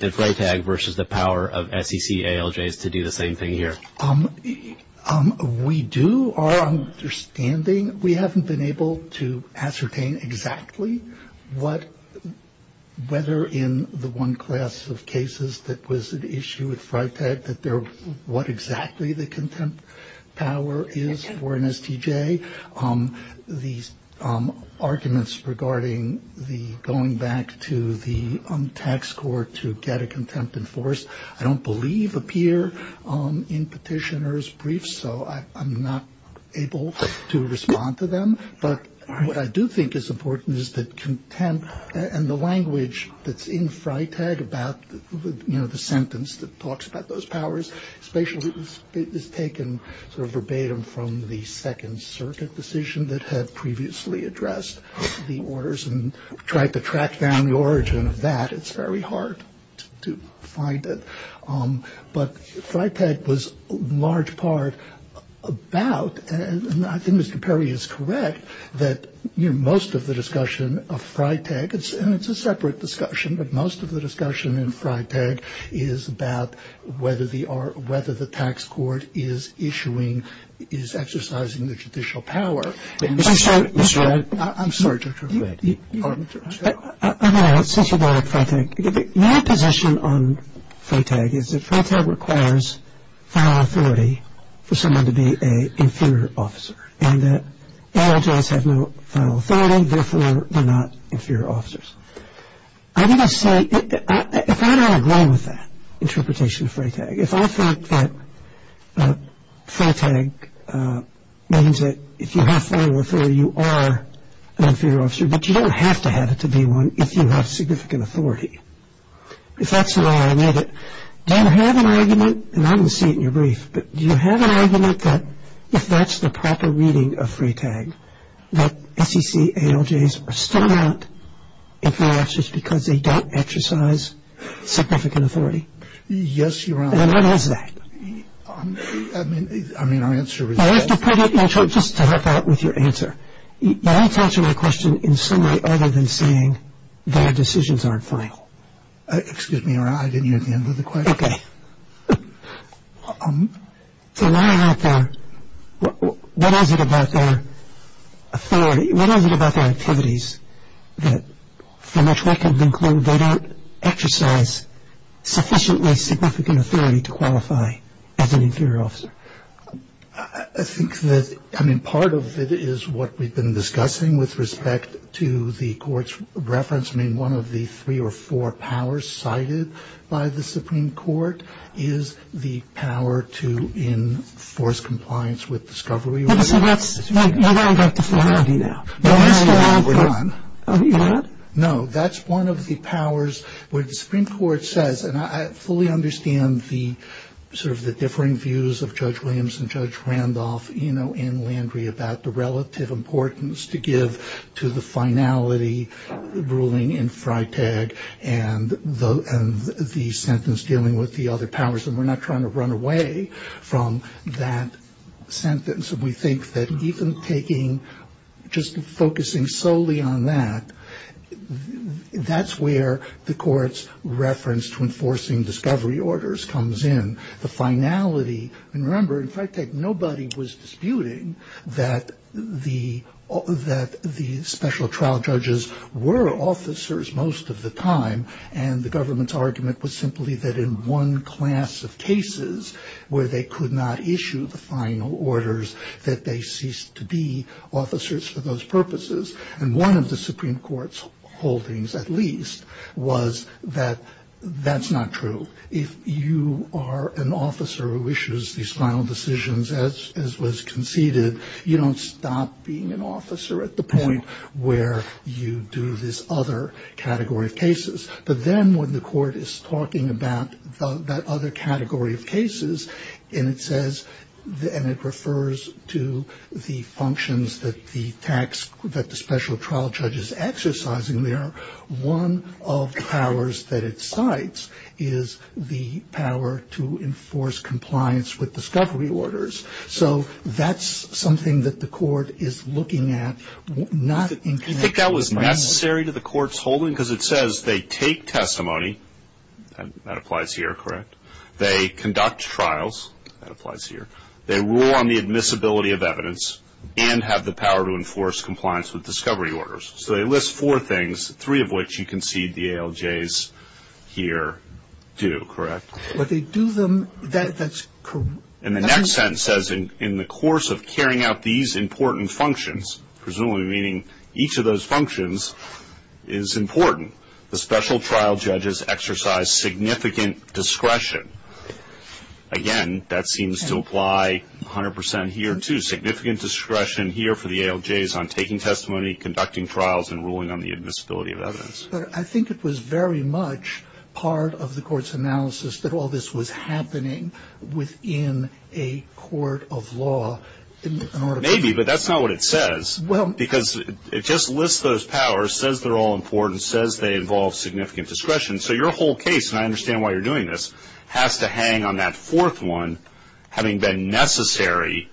in FRATAG versus the power of SEC ALJs to do the same thing here? We do. Our understanding, we haven't been able to ascertain exactly whether in the one class of cases that was an issue with FRATAG that what exactly the contempt power is for an STJ. The arguments regarding the going back to the tax court to get a contempt enforced I don't believe appear in petitioner's briefs, so I'm not able to respond to them. But what I do think is important is that contempt and the language that's in FRATAG about the sentence that talks about those powers, especially if it's taken verbatim from the Second Circuit decision that had previously addressed the orders and tried to track down the origin of that, it's very hard to find it. But FRATAG was large part about, and I think Mr. Perry is correct, that most of the discussion of FRATAG, and it's a separate discussion, but most of the discussion in FRATAG is about whether the tax court is issuing, is exercising the judicial power. I'm sorry, Mr. Redd. I'm sorry, Dr. Redd. I don't know. It's just about FRATAG. My position on FRATAG is that FRATAG requires final authority for someone to be an inferior officer, and the LJs have no final authority, therefore they're not inferior officers. I think I say, if I don't agree with that interpretation of FRATAG, if I think that FRATAG means that if you have final authority, you are an inferior officer, but you don't have to have it to be one if you have significant authority. If that's the way I read it, do you have an argument, and I don't see it in your brief, but do you have an argument that if that's the proper meaning of FRATAG, that FCC and LJs are still not inferior officers because they don't exercise significant authority? Yes, Your Honor. And what is that? I mean, I'll answer that. I have to put it, just to help out with your answer. You don't have to answer my question in summary other than saying their decisions aren't final. Excuse me, Your Honor. I didn't get the end of the question. Okay. So what is it about their authority, what is it about their activities that, for much less has been claimed, they don't exercise sufficiently significant authority to qualify as an inferior officer? I think that, I mean, part of it is what we've been discussing with respect to the court's reference. I mean, one of the three or four powers cited by the Supreme Court is the power to enforce compliance with discovery. No, no, no, no. No, that's one of the powers where the Supreme Court says, and I fully understand the sort of the differing views of Judge Williams and Judge Randolph, you know, and Landry about the relative importance to give to the finality ruling in FRATAG and the sentence dealing with the other powers, and we're not trying to run away from that sentence. We think that even taking, just focusing solely on that, that's where the court's reference to enforcing discovery orders comes in. The finality, and remember, in FRATAG, nobody was disputing that the special trial judges were officers most of the time, and the government's argument was simply that in one class of cases where they could not issue the final orders, that they ceased to be officers for those purposes, and one of the Supreme Court's holdings, at least, was that that's not true. If you are an officer who issues these final decisions as was conceded, you don't stop being an officer at the point where you do this other category of cases, but then when the court is talking about that other category of cases, and it says, and it refers to the functions that the special trial judges exercise, and one of the powers that it cites is the power to enforce compliance with discovery orders, so that's something that the court is looking at. Do you think that was necessary to the court's holding? Because it says they take testimony. That applies here, correct? They conduct trials. That applies here. They rule on the admissibility of evidence and have the power to enforce compliance with discovery orders, so they list four things, three of which you can see the ALJs here do, correct? And the next sentence says, in the course of carrying out these important functions, presumably meaning each of those functions is important, the special trial judges exercise significant discretion. Again, that seems to apply 100% here, too, significant discretion here for the ALJs on taking testimony, conducting trials, and ruling on the admissibility of evidence. I think it was very much part of the court's analysis that all this was happening within a court of law. Maybe, but that's not what it says. Because it just lists those powers, says they're all important, says they involve significant discretion. So your whole case, and I understand why you're doing this, has to hang on that fourth one having been necessary,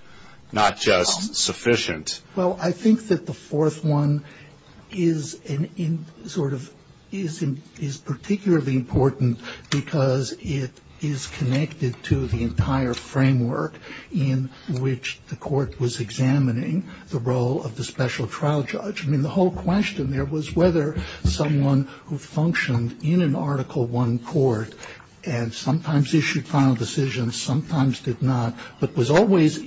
not just sufficient. Well, I think that the fourth one is particularly important because it is connected to the entire framework in which the court was examining the role of the special trial judge. I mean, the whole question there was whether someone who functioned in an Article I court and sometimes issued final decisions, sometimes did not, but was always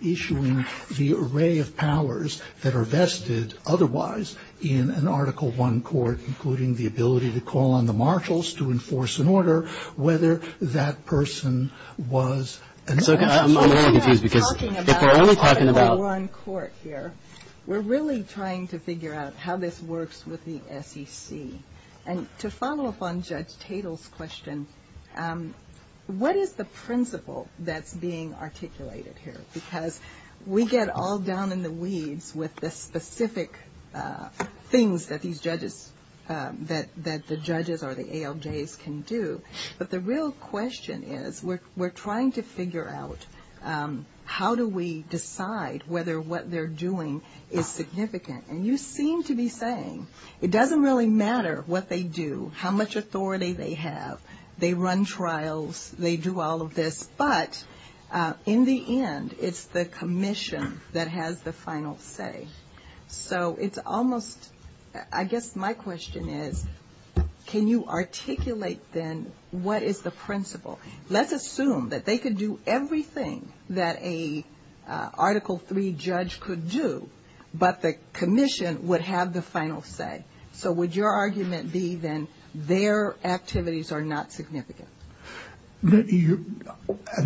issuing the array of powers that are vested otherwise in an Article I court, including the ability to call on the marshals to enforce an order, whether that person was. So I'm really confused because if we're only talking about. If we're only talking about Article I court here, we're really trying to figure out how this works with the SEC. And to follow up on Judge Tatel's question, what is the principle that's being articulated here? Because we get all down in the weeds with the specific things that these judges, that the judges or the ALJs can do. But the real question is we're trying to figure out how do we decide whether what they're doing is significant. And you seem to be saying it doesn't really matter what they do, how much authority they have. They run trials. They do all of this. But in the end, it's the commission that has the final say. So it's almost. I guess my question is can you articulate then what is the principle? Let's assume that they could do everything that a Article III judge could do, but the commission would have the final say. So would your argument be then their activities are not significant? I mean,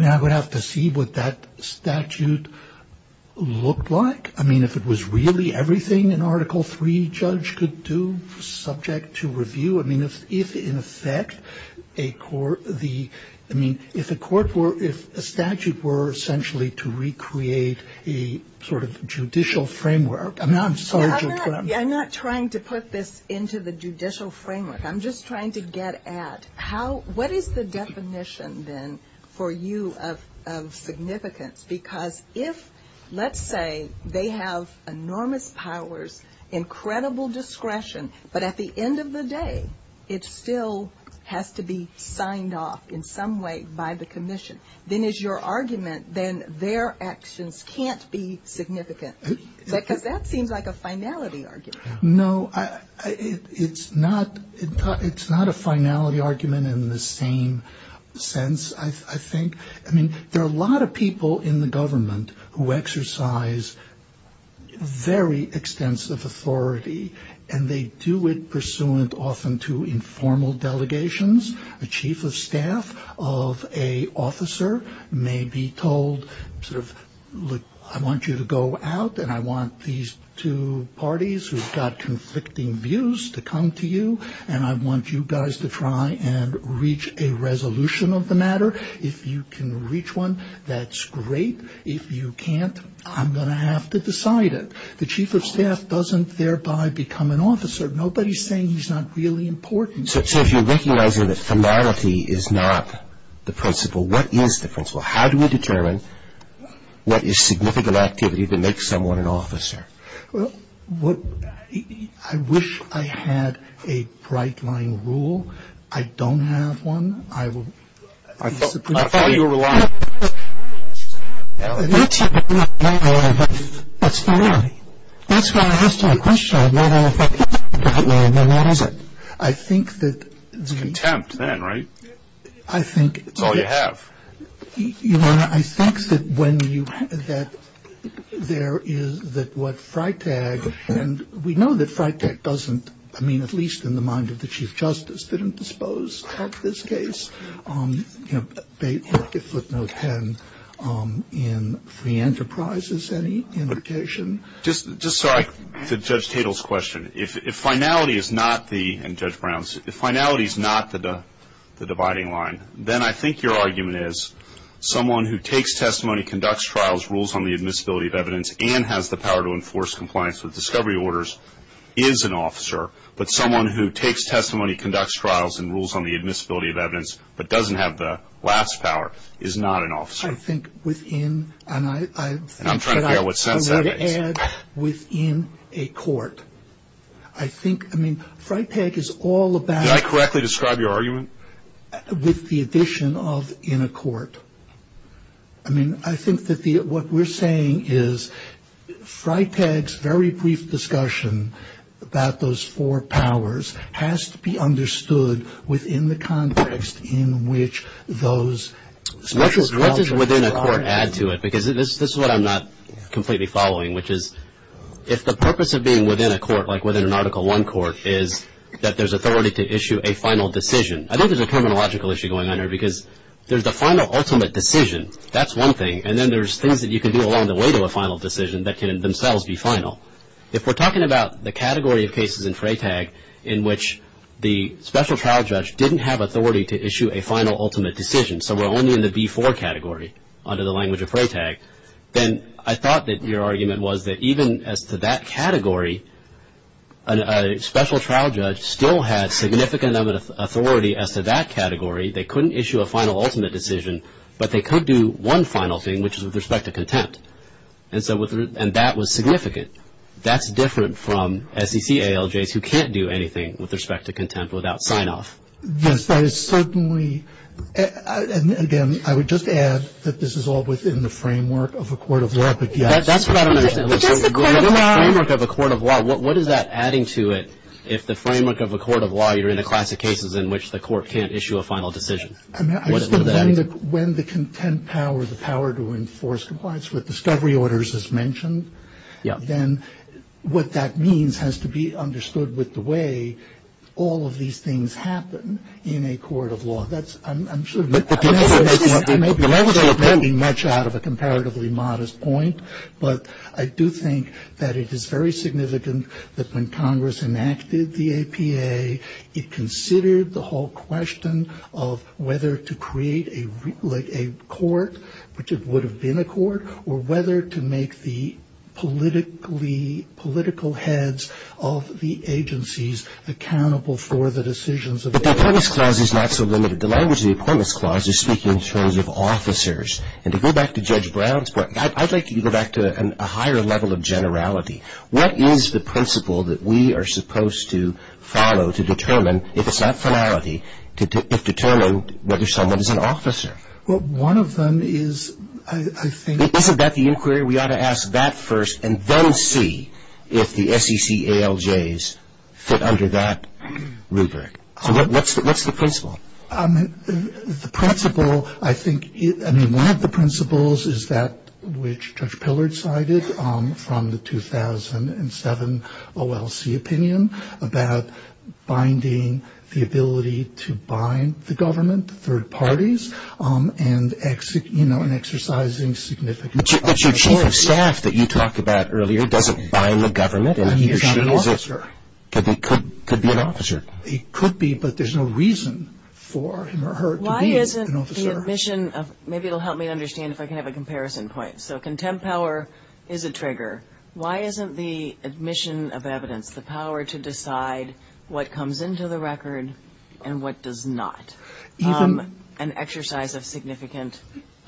I would have to see what that statute looked like. I mean, if it was really everything an Article III judge could do subject to review. I mean, if in effect a court were, if a statute were essentially to recreate a sort of judicial framework. I'm not trying to put this into the judicial framework. I'm just trying to get at what is the definition then for you of significance? Because if, let's say, they have enormous powers, incredible discretion, but at the end of the day it still has to be signed off in some way by the commission, then is your argument then their actions can't be significant? Because that seems like a finality argument. No, it's not a finality argument in the same sense, I think. I mean, there are a lot of people in the government who exercise very extensive authority, and they do it pursuant often to informal delegations. A chief of staff of an officer may be told, sort of, look, I want you to go out, and I want these two parties who've got conflicting views to come to you, and I want you guys to try and reach a resolution of the matter. If you can reach one, that's great. If you can't, I'm going to have to decide it. The chief of staff doesn't thereby become an officer. Nobody's saying he's not really important. So if you're recognizing that finality is not the principle, what is the principle? Well, I wish I had a bright-line rule. I don't have one. I thought you were relying on it. That's not it. That's why I asked you a question. I don't know if I have a bright line, then what is it? I think that the... Contempt, then, right? I think... It's all you have. Ilana, I think that when you... That there is that what Freitag, and we know that Freitag doesn't, I mean, at least in the mind of the chief justice, didn't dispose of this case. You know, they flipped those hands in free enterprises, any indication? Just so I... To Judge Tatel's question, if finality is not the... If finality is someone who takes testimony, conducts trials, rules on the admissibility of evidence, and has the power to enforce compliance with discovery orders, is an officer. But someone who takes testimony, conducts trials, and rules on the admissibility of evidence, but doesn't have the last power, is not an officer. I think within, and I... I'm trying to figure out what sense that is. Within a court. I think, I mean, Freitag is all about... Did I correctly describe your argument? With the addition of in a court. I mean, I think that what we're saying is Freitag's very brief discussion about those four powers has to be understood within the context in which those... What does within a court add to it? Because this is what I'm not completely following, which is if the purpose of being within a court, like within an Article I court, is that there's authority to issue a final decision. I think there's a terminological issue going on here, because there's a final ultimate decision. That's one thing. And then there's things that you can do along the way to a final decision that can themselves be final. If we're talking about the category of cases in Freitag in which the special trial judge didn't have authority to issue a final ultimate decision, so we're only in the D4 category under the language of Freitag, then I thought that your argument was that even as to that category, a special trial judge still had significant authority as to that category. They couldn't issue a final ultimate decision, but they could do one final thing, which is with respect to contempt. And that was significant. That's different from SEC ALJs who can't do anything with respect to contempt without sign-off. Yes, but it's certainly, again, I would just add that this is all within the framework of a court of law. That's what I don't understand. Within the framework of a court of law, what is that adding to it, if the framework of a court of law you're in a class of cases in which the court can't issue a final decision? When the contempt power, the power to enforce compliance with discovery orders is mentioned, then what that means has to be understood with the way all of these things happen in a court of law. That's, I'm sure, maybe much out of a comparatively modest point, but I do think that it is very significant that when Congress enacted the APA, it considered the whole question of whether to create a court, which it would have been a court, or whether to make the political heads of the agencies accountable for the decisions. But the Appointments Clause is not so limited. The language of the Appointments Clause is speaking in terms of officers. And to go back to Judge Brown's point, I'd like you to go back to a higher level of generality. What is the principle that we are supposed to follow to determine, if it's not finality, to determine whether someone is an officer? Well, one of them is, I think- Isn't that the inquiry? We ought to ask that first and then see if the SEC ALJs fit under that rubric. So what's the principle? The principle, I think, I mean, one of the principles is that which Judge Pillard cited from the 2007 OLC opinion about binding the ability to bind the government, third parties, and exercising significant- But your chief of staff that you talked about earlier doesn't bind the government. He's not an officer. But he could be an officer. He could be, but there's no reason for him or her to be an officer. Why isn't the admission of-maybe it will help me understand if I can have a comparison point. So contempt power is a trigger. Why isn't the admission of evidence the power to decide what comes into the record and what does not? An exercise of significant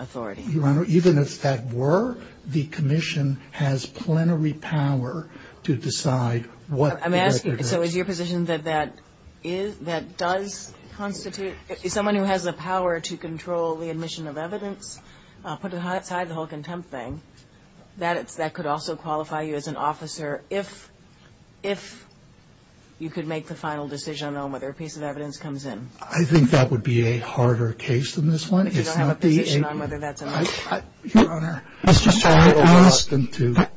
authority. Your Honor, even if that were, the commission has plenary power to decide what- I'm asking, so is your position that that does constitute-if someone who has the power to control the admission of evidence, I'll put aside the whole contempt thing, that could also qualify you as an officer if you could make the final decision on whether a piece of evidence comes in? I think that would be a harder case than this one. If you don't have a decision on whether that's a- Mr. Sorrentino,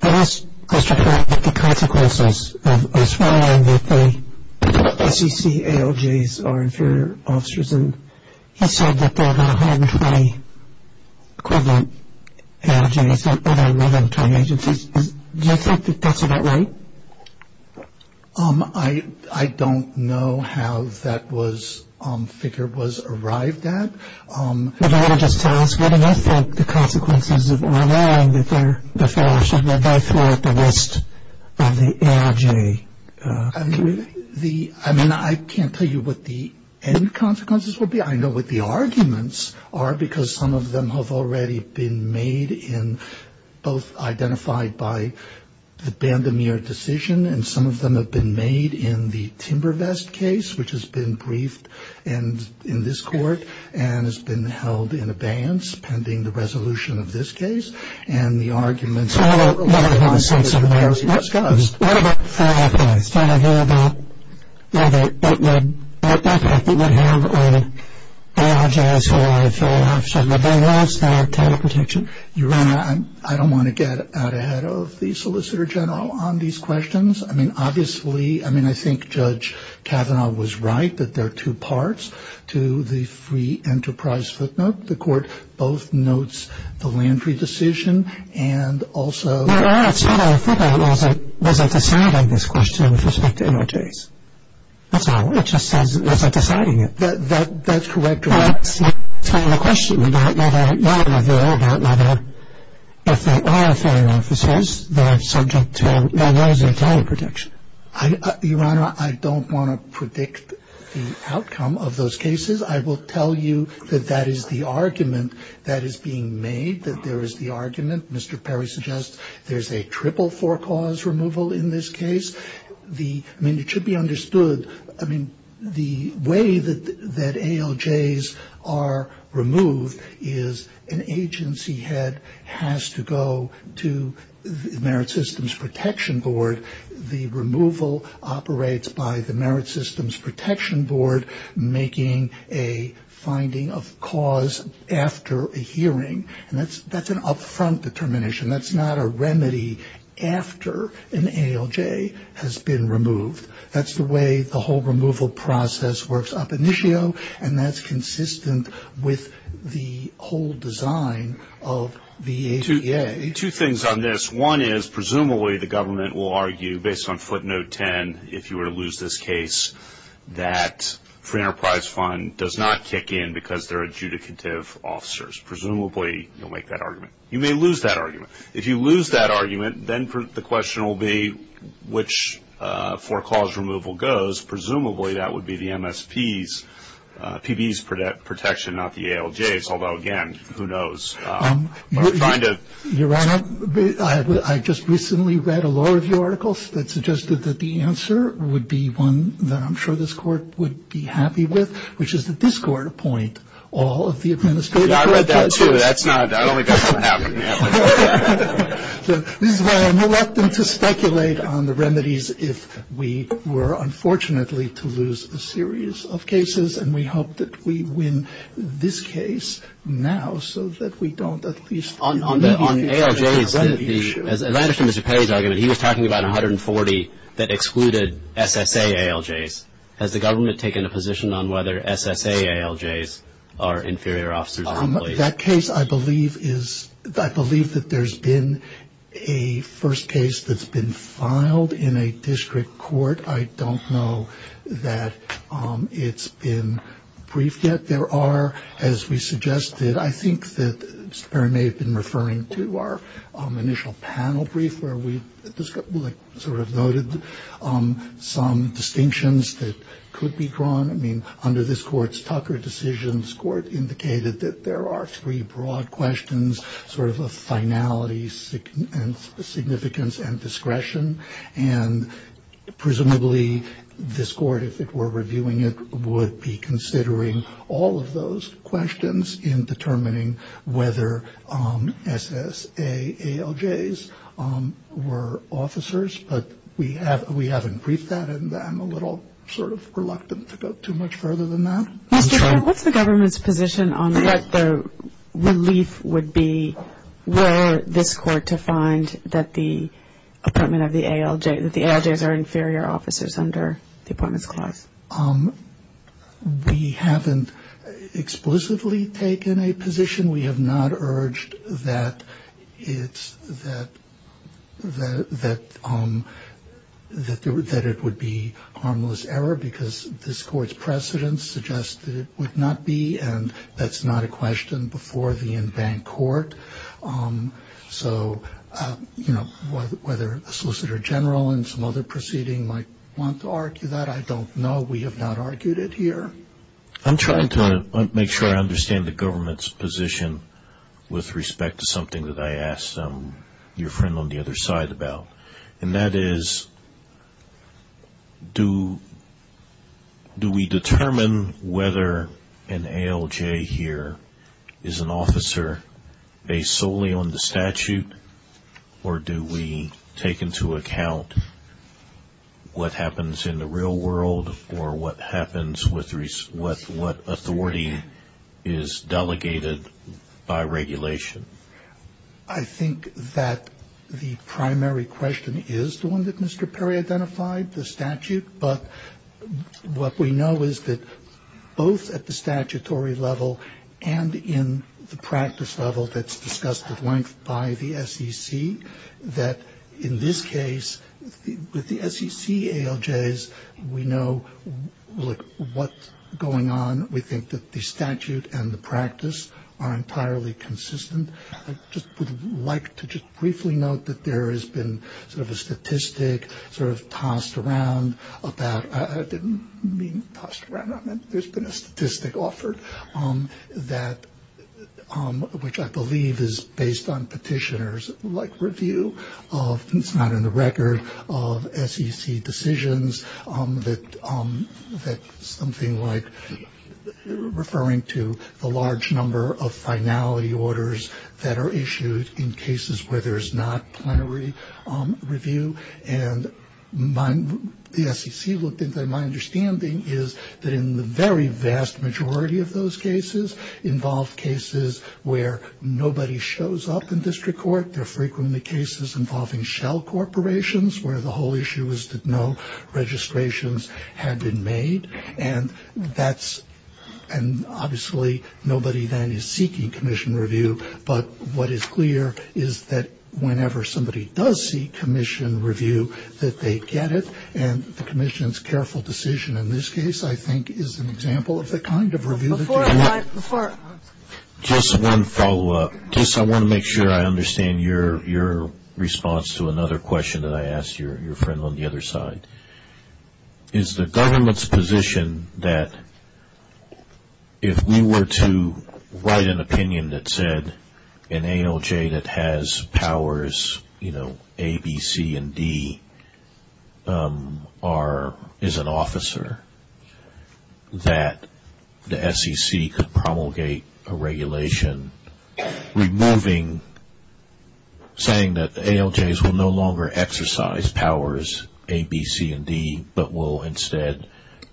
there is a question about the consequences of assuring that the FCC ALJs are inferior officers. And you said that there are 120 equivalent ALJs that are relevant to agencies. Do you think that that's about right? I don't know how that figure was arrived at. If I could just ask, what do you expect the consequences of allowing that there are the fellowships that go through the list of the ALJs? I mean, I can't tell you what the end consequences will be. I know what the arguments are because some of them have already been made in- both identified by the Band-O-Mir decision and some of them have been made in the Timber Vest case, which has been briefed in this court and has been held in abeyance pending the resolution of this case. And the arguments- I don't know about the fellowships. I don't know about whether that would have an ALJs or a fellowship. But there is that kind of prediction. Your Honor, I don't want to get out ahead of the Solicitor General on these questions. I mean, obviously, I mean, I think Judge Kavanaugh was right that there are two parts to the free enterprise footnote. The court both notes the Landry decision and also- Your Honor, I thought I had lost it. Was I deciding this question with respect to ALJs? That's all. It just doesn't- Was I deciding it? That's correct, Your Honor. It's my final question about whether or not there are- about whether, if there are filing offices, they're subject to- what is their final prediction? Your Honor, I don't want to predict the outcome of those cases. I will tell you that that is the argument that is being made, that there is the argument. Mr. Perry suggests there's a triple for-cause removal in this case. The- I mean, it should be understood- I mean, the way that ALJs are removed is an agency head has to go to the Merit Systems Protection Board. The removal operates by the Merit Systems Protection Board making a finding of cause after a hearing. That's an upfront determination. That's not a remedy after an ALJ has been removed. That's the way the whole removal process works up initio, and that's consistent with the whole design of the ACA. Two things on this. One is, presumably, the government will argue, based on footnote 10, if you were to lose this case, that free enterprise fund does not kick in because there are adjudicative officers. Presumably, you'll make that argument. You may lose that argument. If you lose that argument, then the question will be which for-cause removal goes. Presumably, that would be the MST's, PD's protection, not the ALJ's. Although, again, who knows? Your Honor, I just recently read a lot of your articles that suggested that the answer would be one that I'm sure this court would be happy with, which is that this court appoint all of the administrative- I read that, too. That's not-I don't think that's what happened. I'm reluctant to speculate on the remedies if we were, unfortunately, to lose a series of cases, and we hope that we win this case now so that we don't at least- On ALJs, as I understand Mr. Paley's argument, he was talking about 140 that excluded SSA ALJs. Has the government taken a position on whether SSA ALJs are inferior officers? That case, I believe, is-I believe that there's been a first case that's been filed in a district court. I don't know that it's been briefed yet. There are, as we suggested, I think that Mr. Perry may have been referring to our initial panel brief where we sort of noted some distinctions that could be drawn. I mean, under this court's Tucker decision, this court indicated that there are three broad questions, sort of a finality and significance and discretion, and presumably this court, if it were reviewing it, would be considering all of those questions in determining whether SSA ALJs were officers, but we haven't briefed that, and I'm a little sort of reluctant to go too much further than that. Mr. Perry, what's the government's position on what the relief would be were this court to find that the SSA ALJs are inferior officers under the Appointments Clause? We haven't explicitly taken a position. We have not urged that it's-that it would be harmless error because this court's precedents suggest that it would not be, and that's not a question before the in-bank court. So, you know, whether a Solicitor General in some other proceeding might want to argue that, I don't know. We have not argued it here. I'm trying to make sure I understand the government's position with respect to something that I asked your friend on the other side about, and that is do we determine whether an ALJ here is an officer based solely on the statute, or do we take into account what happens in the real world or what happens with what authority is delegated by regulation? I think that the primary question is the one that Mr. Perry identified, the statute, but what we know is that both at the statutory level and in the practice level that's discussed at length by the SEC, that in this case, with the SEC ALJs, we know what's going on. We think that the statute and the practice are entirely consistent. I just would like to just briefly note that there has been sort of a statistic sort of tossed around about-I didn't mean tossed around. I meant there's been a statistic offered that-which I believe is based on petitioners like review of-it's not in the record-of SEC decisions that something like-referring to the large number of finality orders that are issued in cases where there's not plenary review, and the SEC looked into it. My understanding is that in the very vast majority of those cases involve cases where nobody shows up in district court. There are frequently cases involving shell corporations where the whole issue is that no registrations have been made, and that's-and obviously nobody then is seeking commission review, but what is clear is that whenever somebody does seek commission review that they get it, and the commission's careful decision in this case I think is an example of the kind of review- Just one follow-up. I want to make sure I understand your response to another question that I asked your friend on the other side. Is the government's position that if we were to write an opinion that said an ALJ that has powers, you know, a regulation removing-saying that the ALJs will no longer exercise powers A, B, C, and D, but will instead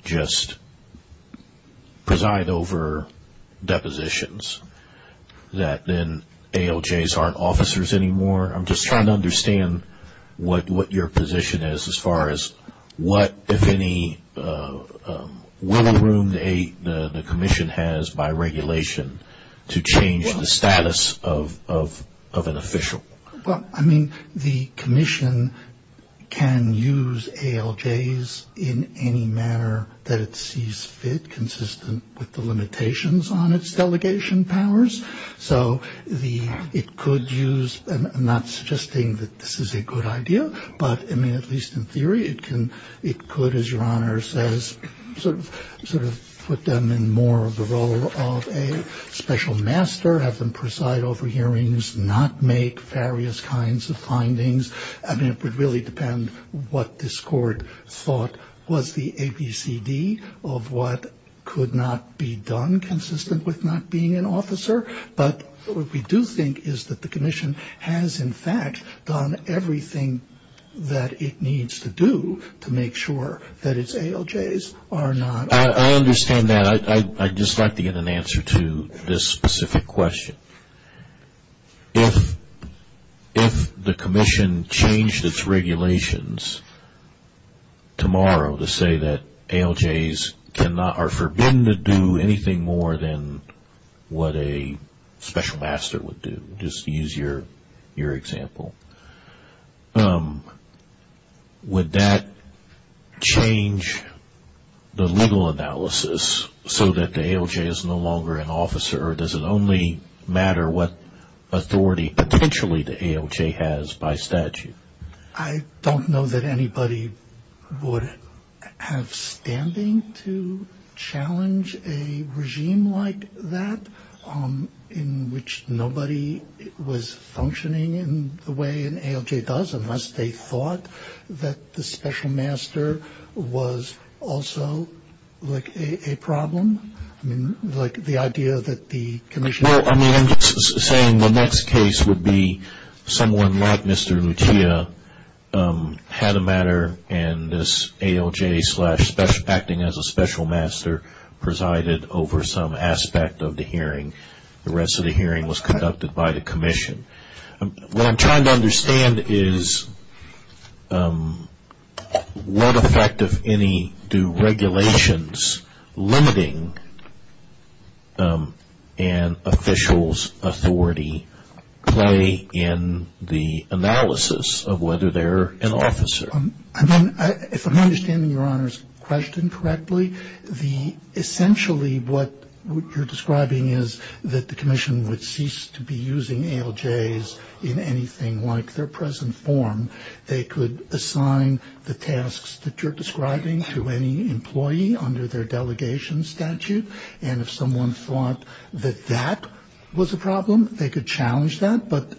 just preside over depositions, that then ALJs aren't officers anymore? I'm just trying to understand what your position is as far as what, if any, will room the commission has by regulation to change the status of an official. Well, I mean, the commission can use ALJs in any manner that it sees fit, consistent with the limitations on its delegation powers. So it could use-I'm not suggesting that this is a good idea, but I mean at least in theory it could, as your Honor says, sort of put them in more of a role of a special master, have them preside over hearings, not make various kinds of findings. I mean, it would really depend what this court thought was the ABCD of what could not be done or inconsistent with not being an officer. But what we do think is that the commission has, in fact, done everything that it needs to do to make sure that its ALJs are not officers. I understand that. I'd just like to get an answer to this specific question. If the commission changed its regulations tomorrow to say that ALJs are forbidden to do anything more than what a special master would do, just to use your example, would that change the legal analysis so that the ALJ is no longer an officer or does it only matter what authority potentially the ALJ has by statute? I don't know that anybody would have standing to challenge a regime like that in which nobody was functioning in the way an ALJ does, unless they thought that the special master was also, like, a problem. Like the idea that the commission was- Well, I mean, I'm just saying the next case would be someone like Mr. Nakita had a matter and this ALJ acting as a special master presided over some aspect of the hearing. The rest of the hearing was conducted by the commission. What I'm trying to understand is what effect, if any, do regulations limiting an official's authority play in the analysis of whether they're an officer? If I'm understanding Your Honor's question correctly, essentially what you're describing is that the commission would cease to be using ALJs in anything like their present form. They could assign the tasks that you're describing to any employee under their delegation statute, and if someone thought that that was a problem, they could challenge that, but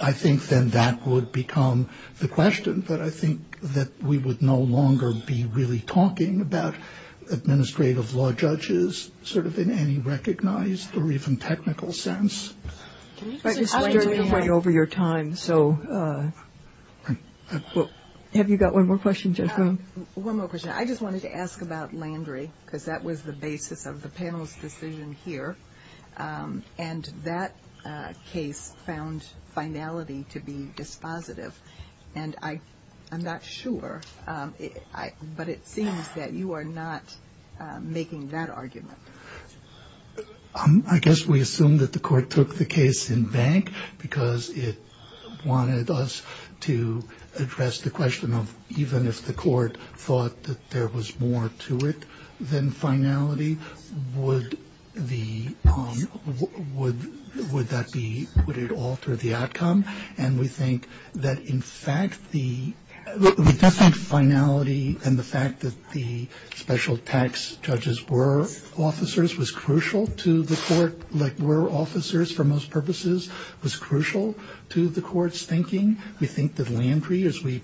I think then that would become the question. But I think that we would no longer be really talking about administrative law judges, sort of in any recognized or even technical sense. Can you explain to me- But it's right over your time, so- Have you got one more question, Judge Bloom? One more question. I just wanted to ask about Landry, because that was the basis of the panel's decision here, and that case found finality to be dispositive, and I'm not sure, but it seems that you are not making that argument. I guess we assume that the court took the case in bank because it wanted us to address the question of even if the court thought that there was more to it than finality, would that put it off to the outcome? And we think that, in fact, the definite finality and the fact that the special tax judges were officers was crucial to the court, were officers for most purposes, was crucial to the court's thinking. We think that Landry, as we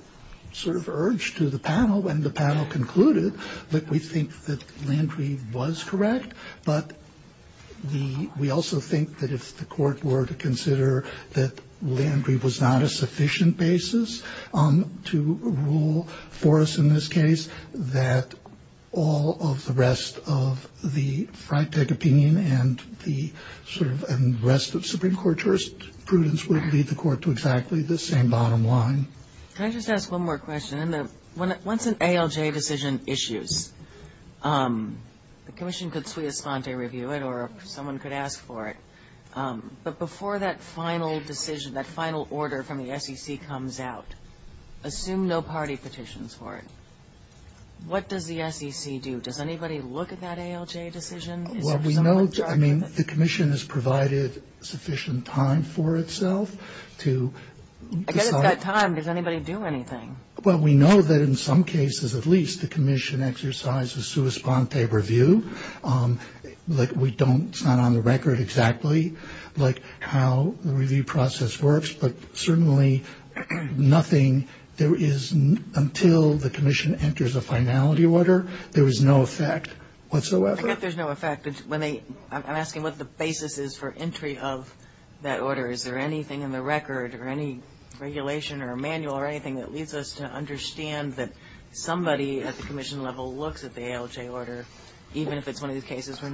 sort of urged to the panel when the panel concluded, that we think that Landry was correct, but we also think that if the court were to consider that Landry was not a sufficient basis to rule for us in this case, that all of the rest of the front-deck opinion and the rest of Supreme Court prudence would lead the court to exactly the same bottom line. Can I just ask one more question? Once an ALJ decision issues, the commission could suite a sponte review it or someone could ask for it, but before that final decision, that final order from the SEC comes out, assume no party petitions for it. What does the SEC do? Does anybody look at that ALJ decision? Well, we know the commission has provided sufficient time for itself to- I guess it's that time. Does anybody do anything? Well, we know that in some cases, at least, the commission exercises suite a sponte review. We don't sign on the record exactly how the review process works, but certainly nothing- until the commission enters a finality order, there is no effect whatsoever. I guess there's no effect. I'm asking what the basis is for entry of that order. Is there anything in the record or any regulation or manual or anything that leads us to understand that somebody at the commission level looks at the ALJ order, even if it's one of these cases where-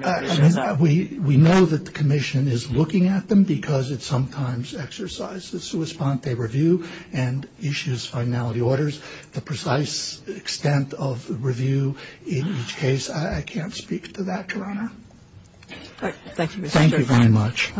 We know that the commission is looking at them because it sometimes exercises suite a sponte review and issues finality orders. The precise extent of the review in each case, I can't speak to that right now. Thank you very much.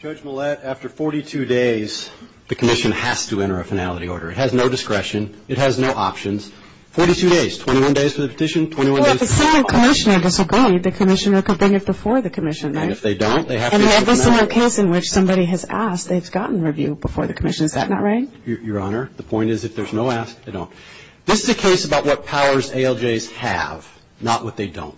Judge Millett, after 42 days, the commission has to enter a finality order. It has no discretion. It has no options. 42 days, 21 days for the petition, 21 days- Well, if it's not a commissioner disobey, the commissioner could bring it before the commission, right? And if they don't, they have to- I mean, if it's not a case in which somebody has asked, they've gotten review before the commission. Is that not right? Your Honor, the point is if there's no ask, they don't. This is a case about what powers ALJs have, not what they don't.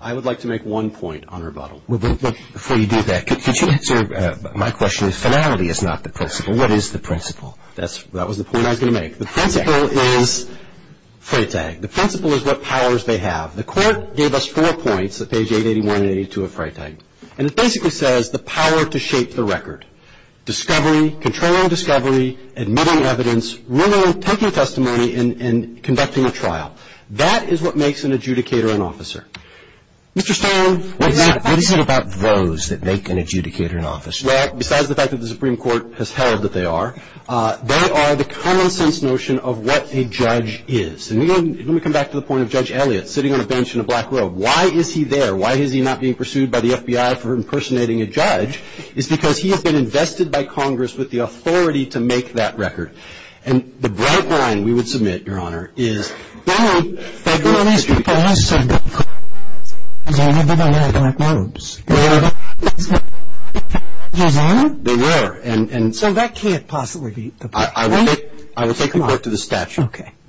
I would like to make one point on rebuttal. Before you do that, could you answer my question? Finality is not the principle. What is the principle? That was the point I was going to make. The principle is what powers they have. The court gave us four points at page 881 and 882 of Freytag. And it basically says the power to shape the record. Discovery, controlling discovery, admitting evidence, really taking testimony and conducting a trial. That is what makes an adjudicator an officer. Mr. Stern, what do you think about those that make an adjudicator an officer? Well, besides the fact that the Supreme Court has held that they are, they are the common sense notion of what a judge is. And let me come back to the point of Judge Elliott sitting on a bench in a black room. Why is he there? Why is he not being pursued by the FBI for impersonating a judge? It's because he has been invested by Congress with the authority to make that record. And the bright line we would submit, Your Honor, is... Well, everyone else before us said that. And now everybody else knows. They were? They were. So that can't possibly be the point, right? I will take the court to the statute.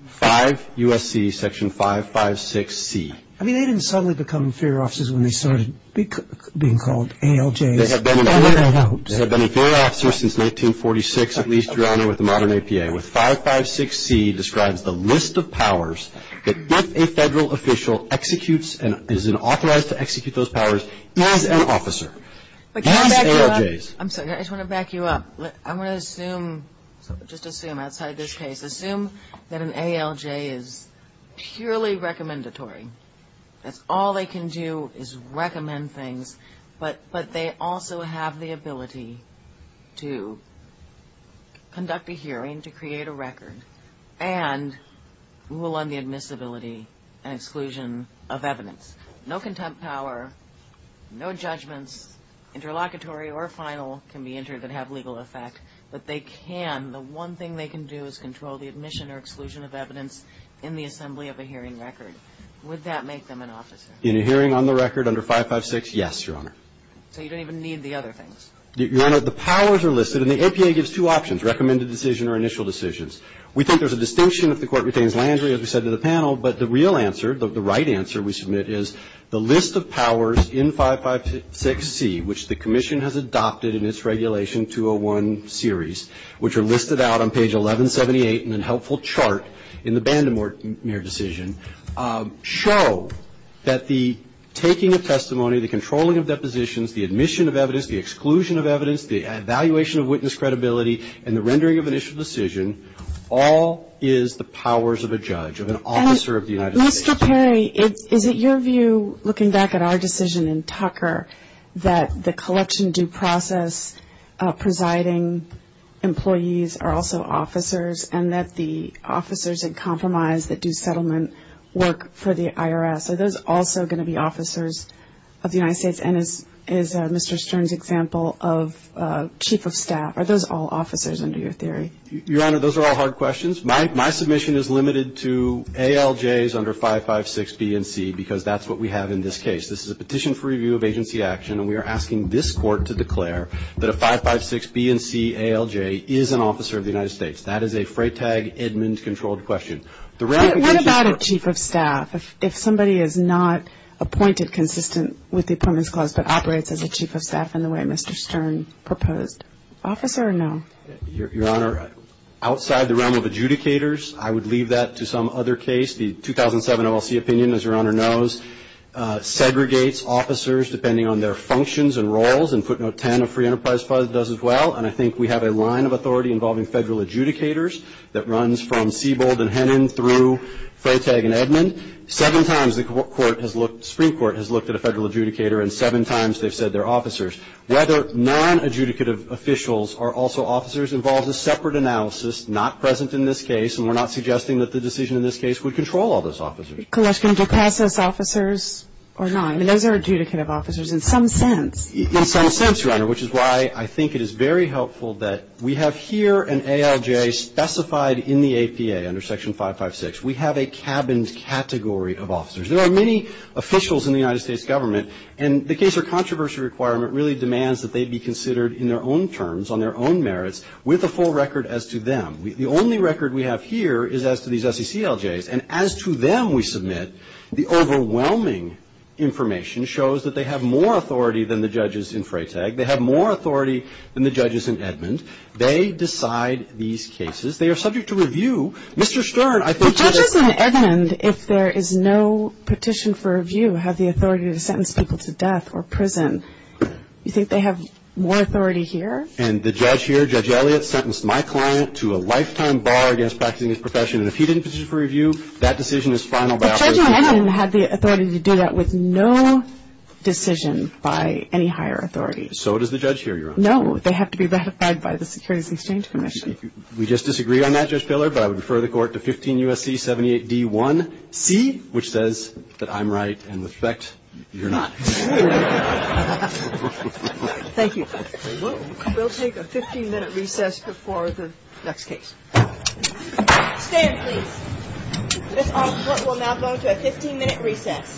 5 U.S.C. section 556C. I mean, they didn't suddenly become inferior officers when they started being called ALJs. They have been an inferior officer since 1946, at least, Your Honor, with the modern APA. 556C describes the list of powers that if a federal official executes and is authorized to execute those powers, he is an officer. I just want to back you up. I want to assume, just assume outside this case, assume that an ALJ is purely recommendatory. That's all they can do is recommend things. But they also have the ability to conduct a hearing, to create a record, and rule on the admissibility and exclusion of evidence. No contempt power, no judgments, interlocutory or final, can be entered that have legal effect. But they can, the one thing they can do is control the admission or exclusion of evidence in the assembly of a hearing record. Would that make them an officer? In a hearing on the record under 556? Yes, Your Honor. So you don't even need the other things? Your Honor, the powers are listed, and the APA gives two options, recommended decision or initial decisions. We think there's a distinction if the court retains Landry, as we said to the panel. But the real answer, the right answer we submit is the list of powers in 556C, which the commission has adopted in its regulation 201 series, which are listed out on page 1178 in a helpful chart in the Bandemore decision, show that the taking of testimony, the controlling of depositions, the admission of evidence, the exclusion of evidence, the evaluation of witness credibility, and the rendering of initial decision, all is the powers of a judge, of an officer of the United States. Mr. Perry, is it your view, looking back at our decision in Tucker, that the collection due process presiding employees are also officers, and that the officers in compromise that do settlement work for the IRS, are those also going to be officers of the United States? And is Mr. Stern's example of chief of staff, are those all officers under your theory? Your Honor, those are all hard questions. My submission is limited to ALJs under 556B and C, because that's what we have in this case. This is a petition for review of agency action, and we are asking this court to declare that a 556B and C ALJ is an officer of the United States. That is a Freytag Edmunds controlled question. What about a chief of staff, if somebody is not appointed consistent with the Permits Clause, but operates as a chief of staff in the way Mr. Stern proposed? Officer or no? Your Honor, outside the realm of adjudicators, I would leave that to some other case. The 2007 OLC opinion, as Your Honor knows, segregates officers depending on their functions and roles, and footnote 10 of Free Enterprise Puzzle does as well, and I think we have a line of authority involving federal adjudicators that runs from Siebold and Hennon through Freytag and Edmund. Seven times the Supreme Court has looked at a federal adjudicator, and seven times they've said they're officers. Whether non-adjudicative officials are also officers involves a separate analysis, not present in this case, and we're not suggesting that the decision in this case would control all those officers. Question, do passives officers or not? I mean, those are adjudicative officers in some sense. In some sense, Your Honor, which is why I think it is very helpful that we have here an ALJ specified in the APA under Section 556. We have a cabined category of officers. There are many officials in the United States government, and the case or controversy requirement really demands that they be considered in their own terms, on their own merits, with a full record as to them. The only record we have here is as to these SCCLJs, and as to them we submit the overwhelming information shows that they have more authority than the judges in Freytag. They have more authority than the judges in Edmund. They decide these cases. They are subject to review. Mr. Stern, I think you're correct. Judges in Edmund, if there is no petition for review, have the authority to sentence people to death or prison. You think they have more authority here? And the judge here, Judge Elliott, sentenced my client to a lifetime bar against practicing his profession, and if he didn't petition for review, that decision is final. The judge in Edmund has the authority to do that with no decision by any higher authority. So does the judge here, Your Honor. No, they have to be verified by the Securities and Exchange Commission. We just disagree on that, Judge Filler, but I would refer the court to 15 U.S.C. 78D1C, which says that I'm right, and with respect, you're not. Thank you. We'll take a 15-minute recess before the next case. Stand, please. This court will now go to a 15-minute recess.